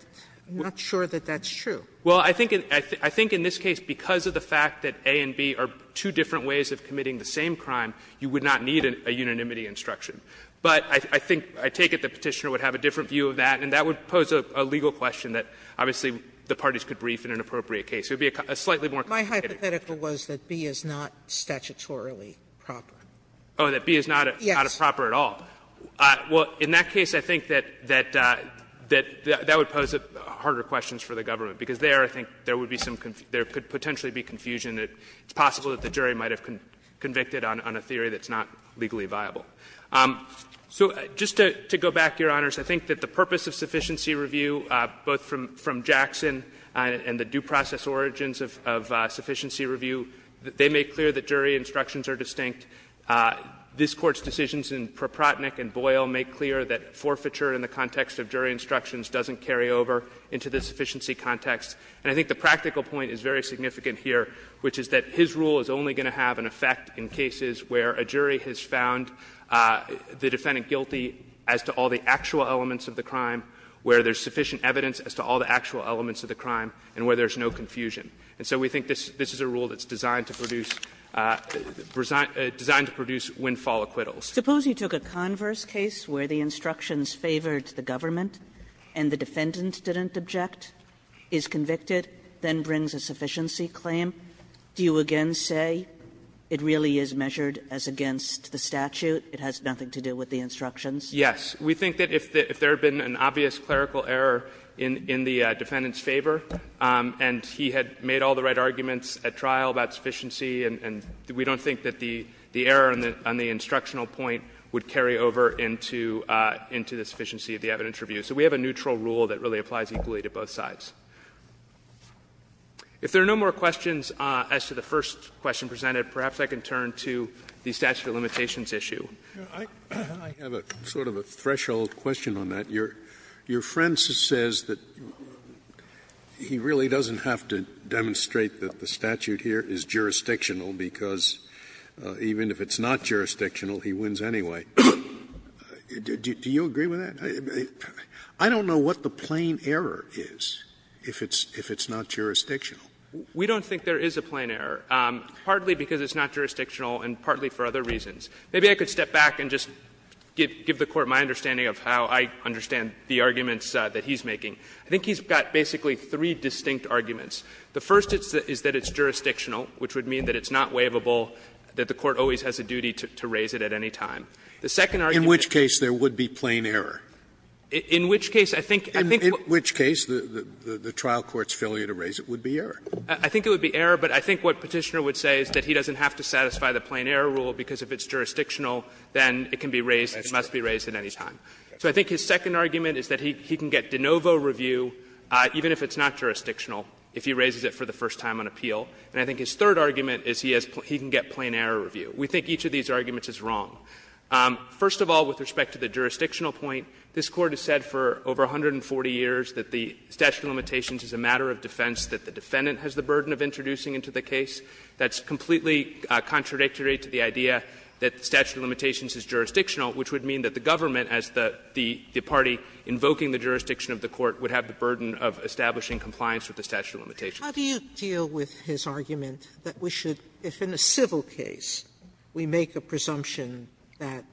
not sure that that's true. Well, I think in this case, because of the fact that A and B are two different ways of committing the same crime, you would not need a unanimity instruction. But I think, I take it the Petitioner would have a different view of that, and that would pose a legal question that obviously the parties could brief in an appropriate case. It would be a slightly more complicated case. My hypothetical was that B is not statutorily proper. Oh, that B is not a proper at all. Yes. Well, in that case, I think that that would pose harder questions for the government, because there, I think, there would be some confusion, there could potentially be confusion that it's possible that the jury might have convicted on a theory that's not legally viable. So just to go back, Your Honors, I think that the purpose of sufficiency review, both from Jackson and the due process origins of sufficiency review, they make clear that jury instructions are distinct. This Court's decisions in Proprotnick and Boyle make clear that forfeiture in the context of jury instructions doesn't carry over into the sufficiency context. And I think the practical point is very significant here, which is that his rule is only going to have an effect in cases where a jury has found the defendant guilty as to all the actual elements of the crime, where there's sufficient evidence as to all the actual elements of the crime, and where there's no confusion. And so we think this is a rule that's designed to produce windfall acquittals. Kagan's. Kagan's. Suppose you took a converse case where the instructions favored the government and the defendant didn't object, is convicted, then brings a sufficiency claim, do you again say it really is measured as against the statute, it has nothing to do with the instructions? Yes. We think that if there had been an obvious clerical error in the defendant's favor and he had made all the right arguments at trial about sufficiency, and we don't think that the error on the instructional point would carry over into the sufficiency of the evidence review. So we have a neutral rule that really applies equally to both sides. If there are no more questions as to the first question presented, perhaps I can turn to the statute of limitations issue. I have a sort of a threshold question on that. Your friend says that he really doesn't have to demonstrate that the statute here is jurisdictional, because even if it's not jurisdictional, he wins anyway. Do you agree with that? I don't know what the plain error is if it's not jurisdictional. We don't think there is a plain error, partly because it's not jurisdictional and partly for other reasons. Maybe I could step back and just give the Court my understanding of how I understand the arguments that he's making. I think he's got basically three distinct arguments. The first is that it's jurisdictional, which would mean that it's not waivable, that the Court always has a duty to raise it at any time. The second argument In which case there would be plain error? In which case I think In which case the trial court's failure to raise it would be error? I think it would be error, but I think what Petitioner would say is that he doesn't have to satisfy the plain error rule because if it's jurisdictional, then it can be raised and must be raised at any time. So I think his second argument is that he can get de novo review, even if it's not if he raises it for the first time on appeal. And I think his third argument is he has he can get plain error review. We think each of these arguments is wrong. First of all, with respect to the jurisdictional point, this Court has said for over 140 years that the statute of limitations is a matter of defense, that the defendant has the burden of introducing into the case. That's completely contradictory to the idea that the statute of limitations is jurisdictional, which would mean that the government as the party invoking the jurisdiction of the Court would have the burden of establishing compliance with the statute of limitations. Sotomayor, how do you deal with his argument that we should, if in a civil case we make a presumption that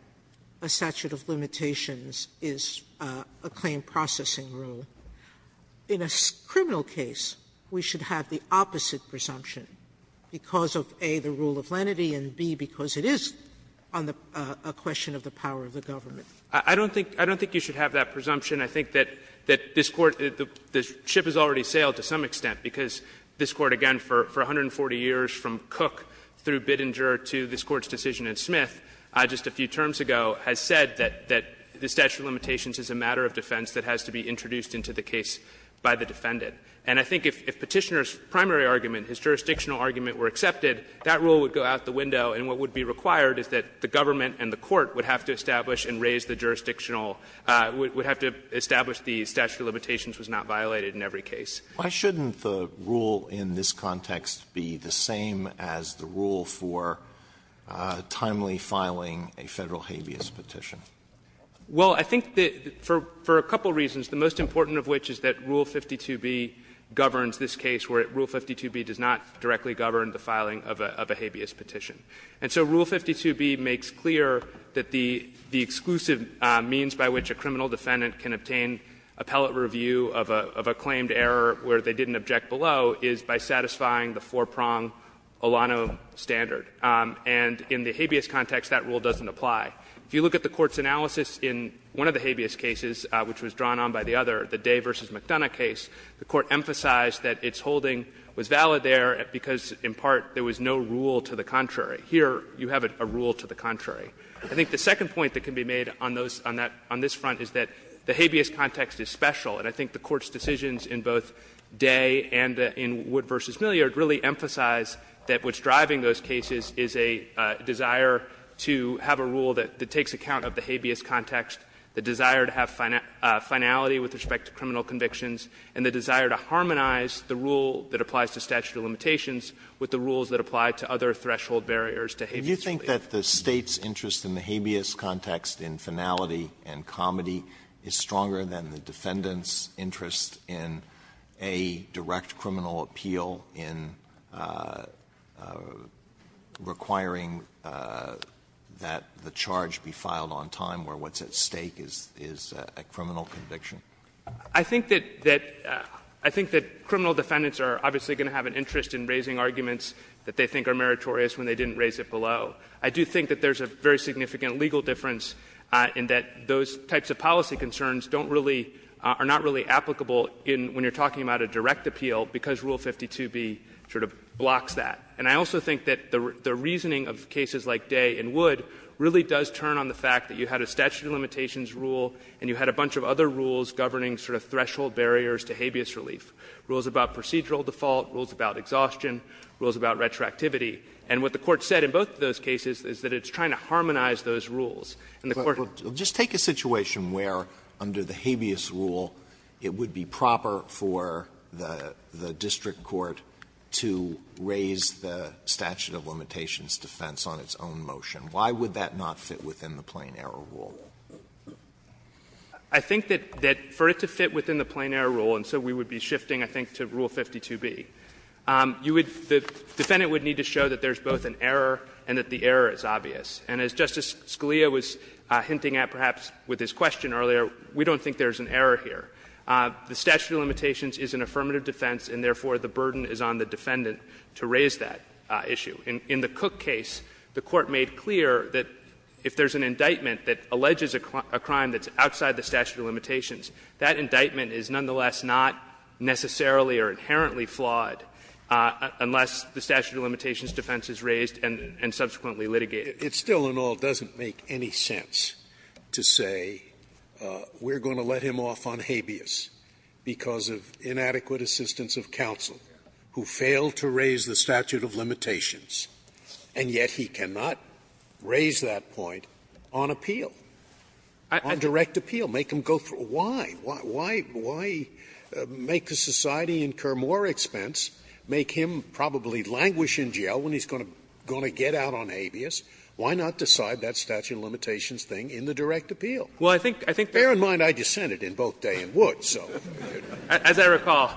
a statute of limitations is a claim processing rule, in a criminal case we should have the opposite presumption because of, A, the rule of lenity, and, B, because it is a question of the power of the government? I don't think you should have that presumption. I think that this Court, the ship has already sailed to some extent, because this Court, again, for 140 years, from Cook through Bittinger to this Court's decision in Smith, just a few terms ago, has said that the statute of limitations is a matter of defense that has to be introduced into the case by the defendant. And I think if Petitioner's primary argument, his jurisdictional argument were accepted, that rule would go out the window and what would be required is that the government and the court would have to establish and raise the jurisdictional – would have to establish the statute of limitations was not violated in every case. Alito, why shouldn't the rule in this context be the same as the rule for timely filing a Federal habeas petition? Well, I think that for a couple of reasons, the most important of which is that Rule 52b governs this case, where Rule 52b does not directly govern the filing of a habeas petition. And so Rule 52b makes clear that the exclusive means by which a criminal defendant can obtain appellate review of a claimed error where they didn't object below is by satisfying the four-prong Olano standard. And in the habeas context, that rule doesn't apply. If you look at the Court's analysis in one of the habeas cases, which was drawn on by the other, the Day v. McDonough case, the Court emphasized that its holding was valid there because, in part, there was no rule to the contrary. Here, you have a rule to the contrary. I think the second point that can be made on those – on this front is that the habeas context is special. And I think the Court's decisions in both Day and in Wood v. Milliard really emphasize that what's driving those cases is a desire to have a rule that takes account of the habeas context, the desire to have finality with respect to criminal convictions, and the desire to harmonize the rule that applies to statute of limitations with the rules that apply to other threshold barriers to habeas relief. Alitoso, do you think that the State's interest in the habeas context, in finality and comedy, is stronger than the defendant's interest in a direct criminal appeal in requiring that the charge be filed on time where what's at stake is a criminal conviction? I think that – I think that criminal defendants are obviously going to have an interest in raising arguments that they think are meritorious when they didn't raise it below. I do think that there's a very significant legal difference in that those types of policy concerns don't really – are not really applicable in – when you're talking about a direct appeal because Rule 52b sort of blocks that. And I also think that the reasoning of cases like Day and Wood really does turn on the fact that you had a statute of limitations rule and you had a bunch of other rules governing sort of threshold barriers to habeas relief, rules about procedural default, rules about exhaustion, rules about retroactivity. And what the Court said in both of those cases is that it's trying to harmonize those rules. And the Court had to do that. Alitoso, just take a situation where under the habeas rule it would be proper for the district court to raise the statute of limitations defense on its own motion. Why would that not fit within the plain error rule? I think that for it to fit within the plain error rule, and so we would be shifting, I think, to Rule 52b, you would – the defendant would need to show that there's both an error and that the error is obvious. And as Justice Scalia was hinting at perhaps with his question earlier, we don't think there's an error here. The statute of limitations is an affirmative defense, and therefore the burden is on the defendant to raise that issue. In the Cook case, the Court made clear that if there's an indictment that alleges a crime that's outside the statute of limitations, that indictment is nonetheless not necessarily or inherently flawed unless the statute of limitations defense is raised and subsequently litigated. Scalia. It still in all doesn't make any sense to say we're going to let him off on habeas because of inadequate assistance of counsel who failed to raise the statute of limitations and yet he cannot raise that point on appeal, on direct appeal, make him go through – why? Why make the society incur more expense, make him probably languish in jail when he's going to get out on habeas? Why not decide that statute of limitations thing in the direct appeal? Fair in mind I dissented in both Day and Wood, so. As I recall,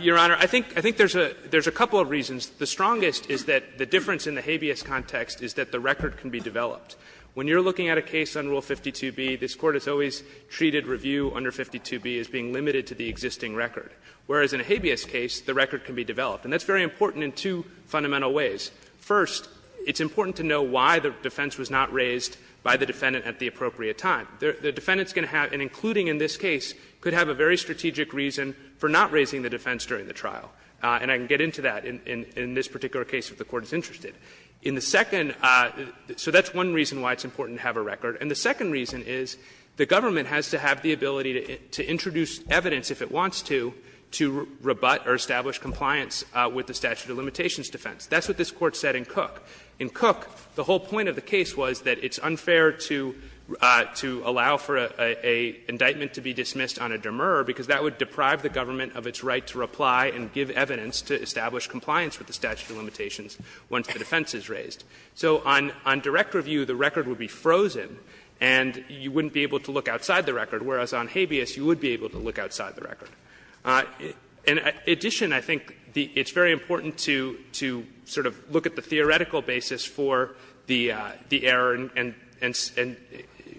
Your Honor, I think there's a couple of reasons. The strongest is that the difference in the habeas context is that the record can be developed. When you're looking at a case under Rule 52b, this Court has always treated review under 52b as being limited to the existing record, whereas in a habeas case the record can be developed. And that's very important in two fundamental ways. First, it's important to know why the defense was not raised by the defendant at the appropriate time. The defendant's going to have, and including in this case, could have a very strategic reason for not raising the defense during the trial. And I can get into that in this particular case if the Court is interested. In the second – so that's one reason why it's important to have a record. And the second reason is the government has to have the ability to introduce evidence if it wants to, to rebut or establish compliance with the statute of limitations defense. That's what this Court said in Cook. In Cook, the whole point of the case was that it's unfair to allow for an indictment to be dismissed on a demur because that would deprive the government of its right to reply and give evidence to establish compliance with the statute of limitations once the defense is raised. So on direct review, the record would be frozen and you wouldn't be able to look outside the record, whereas on habeas you would be able to look outside the record. In addition, I think it's very important to sort of look at the theoretical basis for the error and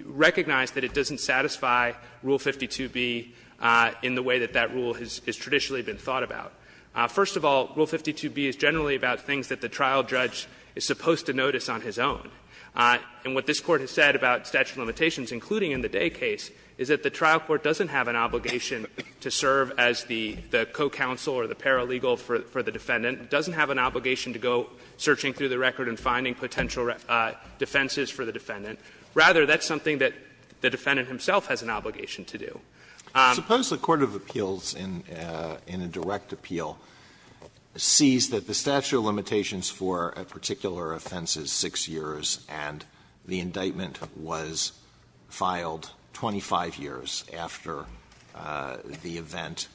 recognize that it doesn't satisfy Rule 52b in the way that that rule has traditionally been thought about. First of all, Rule 52b is generally about things that the trial judge is supposed to notice on his own. And what this Court has said about statute of limitations, including in the Day case, is that the trial court doesn't have an obligation to serve as the co-counsel or the paralegal for the defendant. It doesn't have an obligation to go searching through the record and finding potential defenses for the defendant. Rather, that's something that the defendant himself has an obligation to do. Alitoso, the court of appeals in a direct appeal sees that the statute of limitations for a particular offense is 6 years, and the indictment was filed 25 years after the event.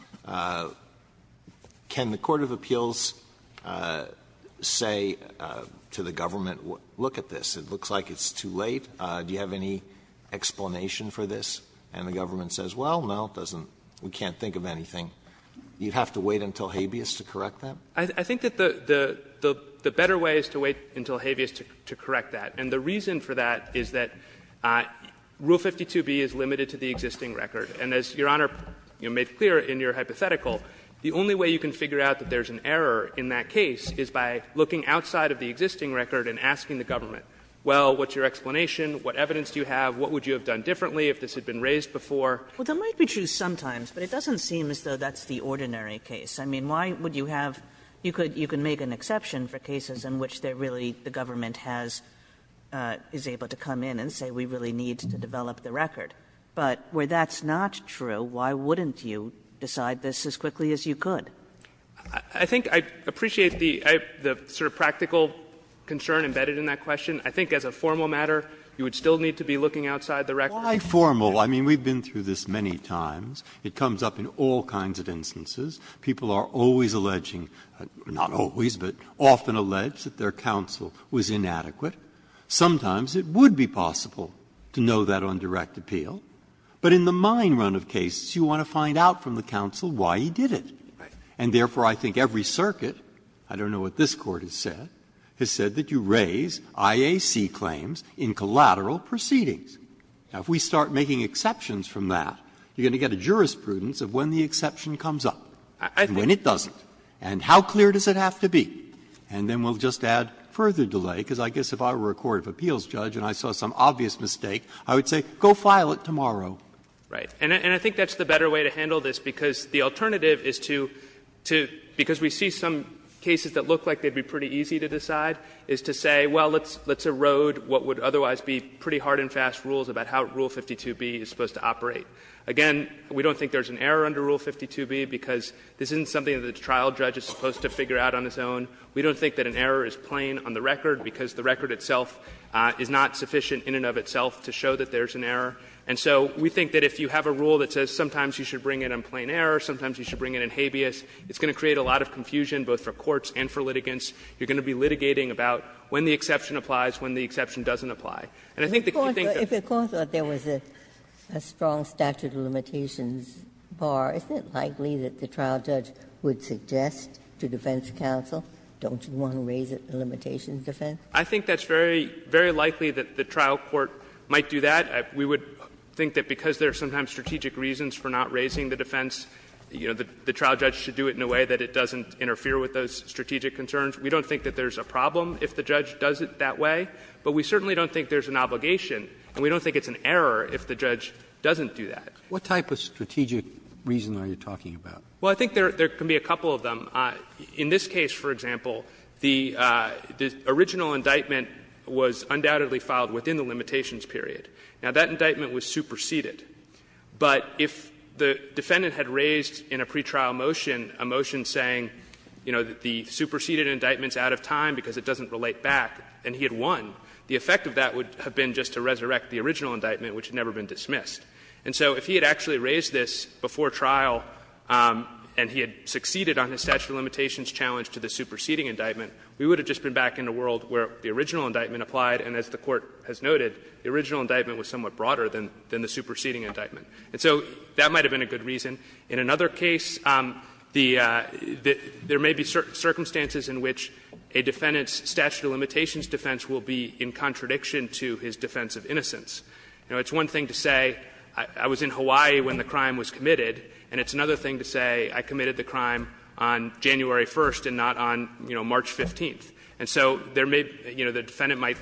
Can the court of appeals say to the government, look at this, it looks like it's too late, do you have any explanation for this? And the government says, well, no, it doesn't, we can't think of anything. You'd have to wait until habeas to correct that? I think that the better way is to wait until habeas to correct that. And the reason for that is that Rule 52b is limited to the existing record. And as Your Honor made clear in your hypothetical, the only way you can figure out that there's an error in that case is by looking outside of the existing record and asking the government, well, what's your explanation, what evidence do you have, what would you have done differently if this had been raised before? Well, that might be true sometimes, but it doesn't seem as though that's the ordinary case. I mean, why would you have you could you can make an exception for cases in which they're really the government has is able to come in and say we really need to develop the record. But where that's not true, why wouldn't you decide this as quickly as you could? I think I appreciate the sort of practical concern embedded in that question. I think as a formal matter, you would still need to be looking outside the record. Why formal? I mean, we've been through this many times. It comes up in all kinds of instances. People are always alleging, not always, but often allege that their counsel was inadequate. Sometimes it would be possible to know that on direct appeal. But in the mine run of cases, you want to find out from the counsel why he did it. And therefore, I think every circuit, I don't know what this Court has said, has said that you raise IAC claims in collateral proceedings. Now, if we start making exceptions from that, you're going to get a jurisprudence of when the exception comes up and when it doesn't. And how clear does it have to be? And then we'll just add further delay, because I guess if I were a court of appeals judge and I saw some obvious mistake, I would say go file it tomorrow. Right. And I think that's the better way to handle this, because the alternative is to to because we see some cases that look like they'd be pretty easy to decide is to say, well, let's erode what would otherwise be pretty hard and fast rules about how Rule 52b is supposed to operate. Again, we don't think there's an error under Rule 52b, because this isn't something that a trial judge is supposed to figure out on his own. We don't think that an error is plain on the record, because the record itself is not sufficient in and of itself to show that there's an error. And so we think that if you have a rule that says sometimes you should bring it in plain error, sometimes you should bring it in habeas, it's going to create a lot of confusion, both for courts and for litigants. You're going to be litigating about when the exception applies, when the exception doesn't apply. And I think that you think that's very likely that the trial court might do that. We would think that because there are sometimes strategic reasons for not raising the defense, you know, the trial judge should do it in a way that it doesn't interfere with those strategic concerns. We don't think that there's a problem if the judge does it that way, but we certainly don't think there's an obligation, and we don't think it's an error if the judge doesn't do that. What type of strategic reason are you talking about? Well, I think there can be a couple of them. In this case, for example, the original indictment was undoubtedly filed within the limitations period. Now, that indictment was superseded, but if the defendant had raised in a pretrial motion a motion saying, you know, the superseded indictment is out of time because it doesn't relate back, and he had won, the effect of that would have been just to resurrect the original indictment, which had never been dismissed. And so if he had actually raised this before trial and he had succeeded on his statute of limitations challenge to the superseding indictment, we would have just been back in a world where the original indictment applied, and as the Court has noted, the original indictment was somewhat broader than the superseding indictment. And so that might have been a good reason. In another case, there may be circumstances in which a defendant's statute of limitations defense will be in contradiction to his defense of innocence. You know, it's one thing to say, I was in Hawaii when the crime was committed, and it's another thing to say, I committed the crime on January 1st and not on, you know, March 15th. And so there may be, you know, the defendant might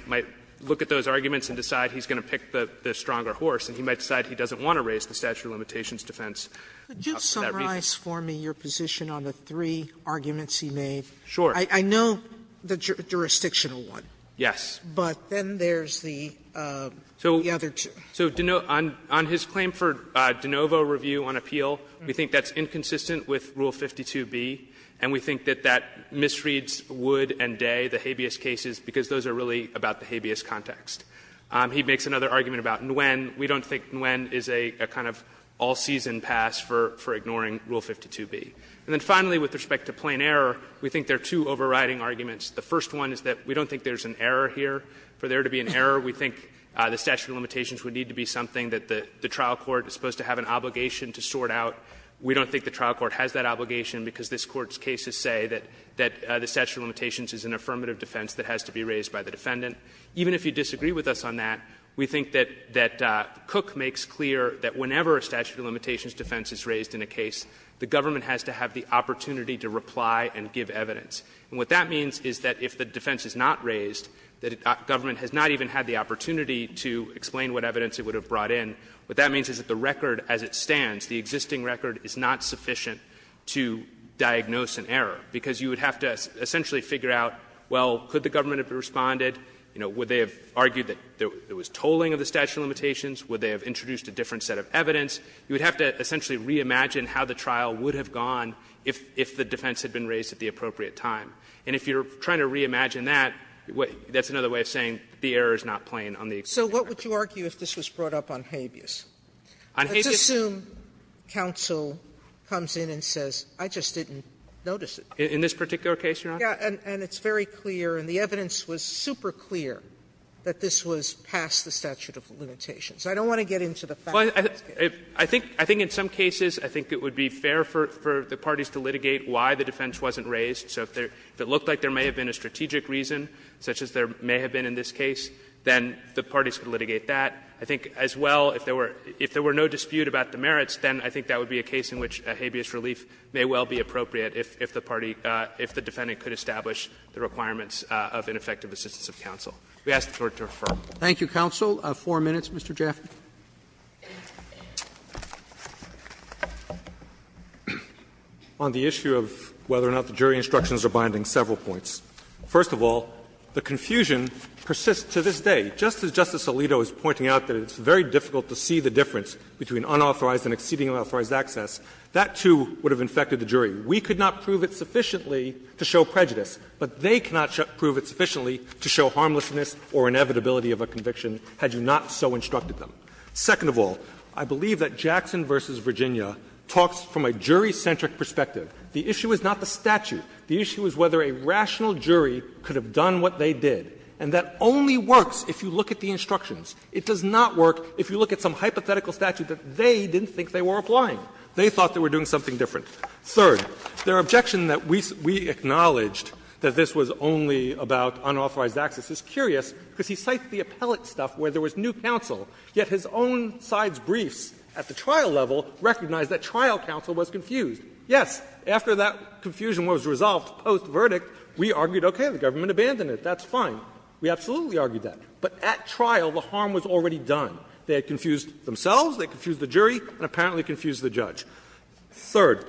look at those arguments and decide he's going to pick the stronger horse, and he might decide he doesn't want to raise the statute of limitations defense for that reason. Sotomayor, could you summarize for me your position on the three arguments he made? Sure. I know the jurisdictional one. Yes. But then there's the other two. So on his claim for de novo review on appeal, we think that's inconsistent with Rule 52b, and we think that that misreads Wood and Day, the habeas cases, because those are really about the habeas context. He makes another argument about Nguyen. We don't think Nguyen is a kind of all-season pass for ignoring Rule 52b. And then finally, with respect to plain error, we think there are two overriding arguments. The first one is that we don't think there's an error here. For there to be an error, we think the statute of limitations would need to be something that the trial court is supposed to have an obligation to sort out. We don't think the trial court has that obligation, because this Court's cases say that the statute of limitations is an affirmative defense that has to be raised by the defendant. Even if you disagree with us on that, we think that Cook makes clear that whenever a statute of limitations defense is raised in a case, the government has to have the opportunity to reply and give evidence. And what that means is that if the defense is not raised, the government has not even had the opportunity to explain what evidence it would have brought in. What that means is that the record as it stands, the existing record, is not sufficient to diagnose an error, because you would have to essentially figure out, well, could the government have responded? Would they have argued that there was tolling of the statute of limitations? Would they have introduced a different set of evidence? You would have to essentially reimagine how the trial would have gone if the defense had been raised at the appropriate time. And if you're trying to reimagine that, that's another way of saying the error is not plain on the existing record. Sotomayor, So what would you argue if this was brought up on habeas? Let's assume counsel comes in and says, I just didn't notice it. In this particular case, Your Honor? Sotomayor, And it's very clear, and the evidence was super clear, that this was past the statute of limitations. I don't want to get into the fact that it's there. Martinez, I think in some cases I think it would be fair for the parties to litigate why the defense wasn't raised. So if it looked like there may have been a strategic reason, such as there may have been in this case, then the parties could litigate that. I think as well, if there were no dispute about the merits, then I think that would be a case in which a habeas relief may well be appropriate if the party, if the defendant could establish the requirements of ineffective assistance of counsel. We ask the Court to refer. Roberts. Thank you, counsel. Four minutes, Mr. Jaffer. Jaffer, on the issue of whether or not the jury instructions are binding, several points. First of all, the confusion persists to this day. Just as Justice Alito is pointing out that it's very difficult to see the difference between unauthorized and exceedingly unauthorized access, that, too, would have infected the jury. We could not prove it sufficiently to show prejudice, but they cannot prove it sufficiently to show harmlessness or inevitability of a conviction had you not so instructed them. Second of all, I believe that Jackson v. Virginia talks from a jury-centric perspective. The issue is not the statute. The issue is whether a rational jury could have done what they did. And that only works if you look at the instructions. It does not work if you look at some hypothetical statute that they didn't think they were applying. They thought they were doing something different. Third, their objection that we acknowledged that this was only about unauthorized access is curious because he cites the appellate stuff where there was new counsel, yet his own side's briefs at the trial level recognized that trial counsel was confused. Yes, after that confusion was resolved post-verdict, we argued, okay, the government abandoned it. That's fine. We absolutely argued that. But at trial, the harm was already done. They had confused themselves, they had confused the jury, and apparently confused the judge. Third,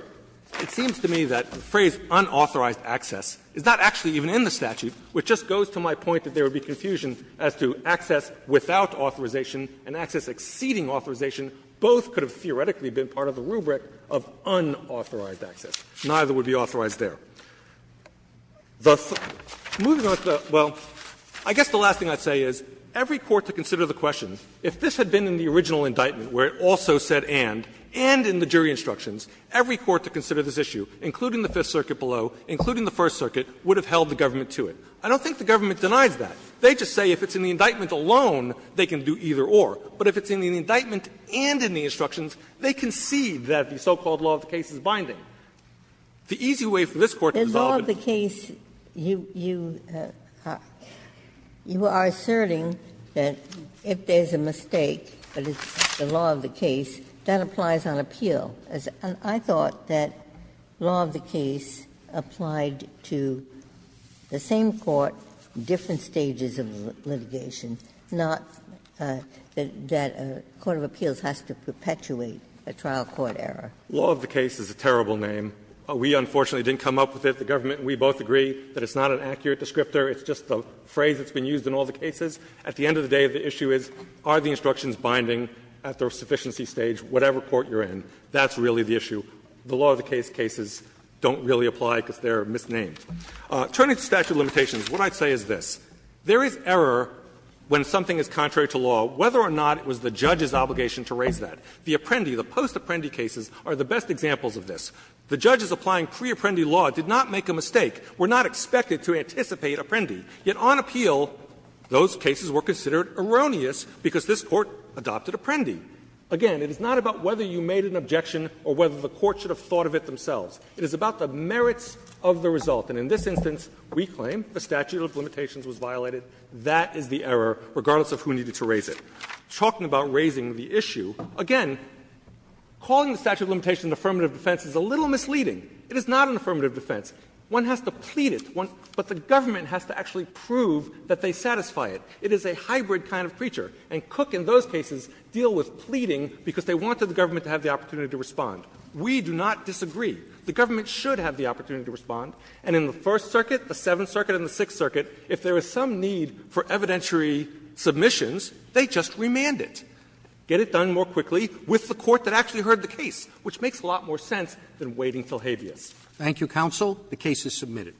it seems to me that the phrase unauthorized access is not actually even in the statute, which just goes to my point that there would be confusion as to access without authorization and access exceeding authorization. Both could have theoretically been part of the rubric of unauthorized access. Neither would be authorized there. The third thing, moving on to the other, well, I guess the last thing I'd say is every court to consider the question, if this had been in the original indictment where it also said and, and in the jury instructions, every court to consider this issue, including the Fifth Circuit below, including the First Circuit, would have held the government to it. I don't think the government denies that. They just say if it's in the indictment alone, they can do either or. But if it's in the indictment and in the instructions, they concede that the so-called law of the case is binding. The easy way for this Court to resolve it is to say that the law of the case is binding. Ginsburg. The law of the case, that applies on appeal. I thought that law of the case applied to the same court, different stages of litigation, not that a court of appeals has to perpetuate a trial court error. Fisherman. Law of the case is a terrible name. We, unfortunately, didn't come up with it. The government and we both agree that it's not an accurate descriptor. It's just a phrase that's been used in all the cases. At the end of the day, the issue is are the instructions binding at the sufficiency stage, whatever court you're in. That's really the issue. The law of the case cases don't really apply because they're misnamed. Turning to statute of limitations, what I'd say is this. There is error when something is contrary to law, whether or not it was the judge's obligation to raise that. The Apprendi, the post-Apprendi cases, are the best examples of this. The judges applying pre-Apprendi law did not make a mistake, were not expected to anticipate Apprendi. Yet on appeal, those cases were considered erroneous because this Court adopted Apprendi. Again, it is not about whether you made an objection or whether the Court should have thought of it themselves. It is about the merits of the result. And in this instance, we claim the statute of limitations was violated. That is the error, regardless of who needed to raise it. Talking about raising the issue, again, calling the statute of limitations an affirmative defense is a little misleading. It is not an affirmative defense. One has to plead it. But the government has to actually prove that they satisfy it. It is a hybrid kind of creature. And Cook and those cases deal with pleading because they wanted the government to have the opportunity to respond. We do not disagree. The government should have the opportunity to respond. And in the First Circuit, the Seventh Circuit and the Sixth Circuit, if there is some need for evidentiary submissions, they just remand it, get it done more quickly with the court that actually heard the case, which makes a lot more sense than waiting till habeas. Roberts. Thank you, counsel. The case is submitted.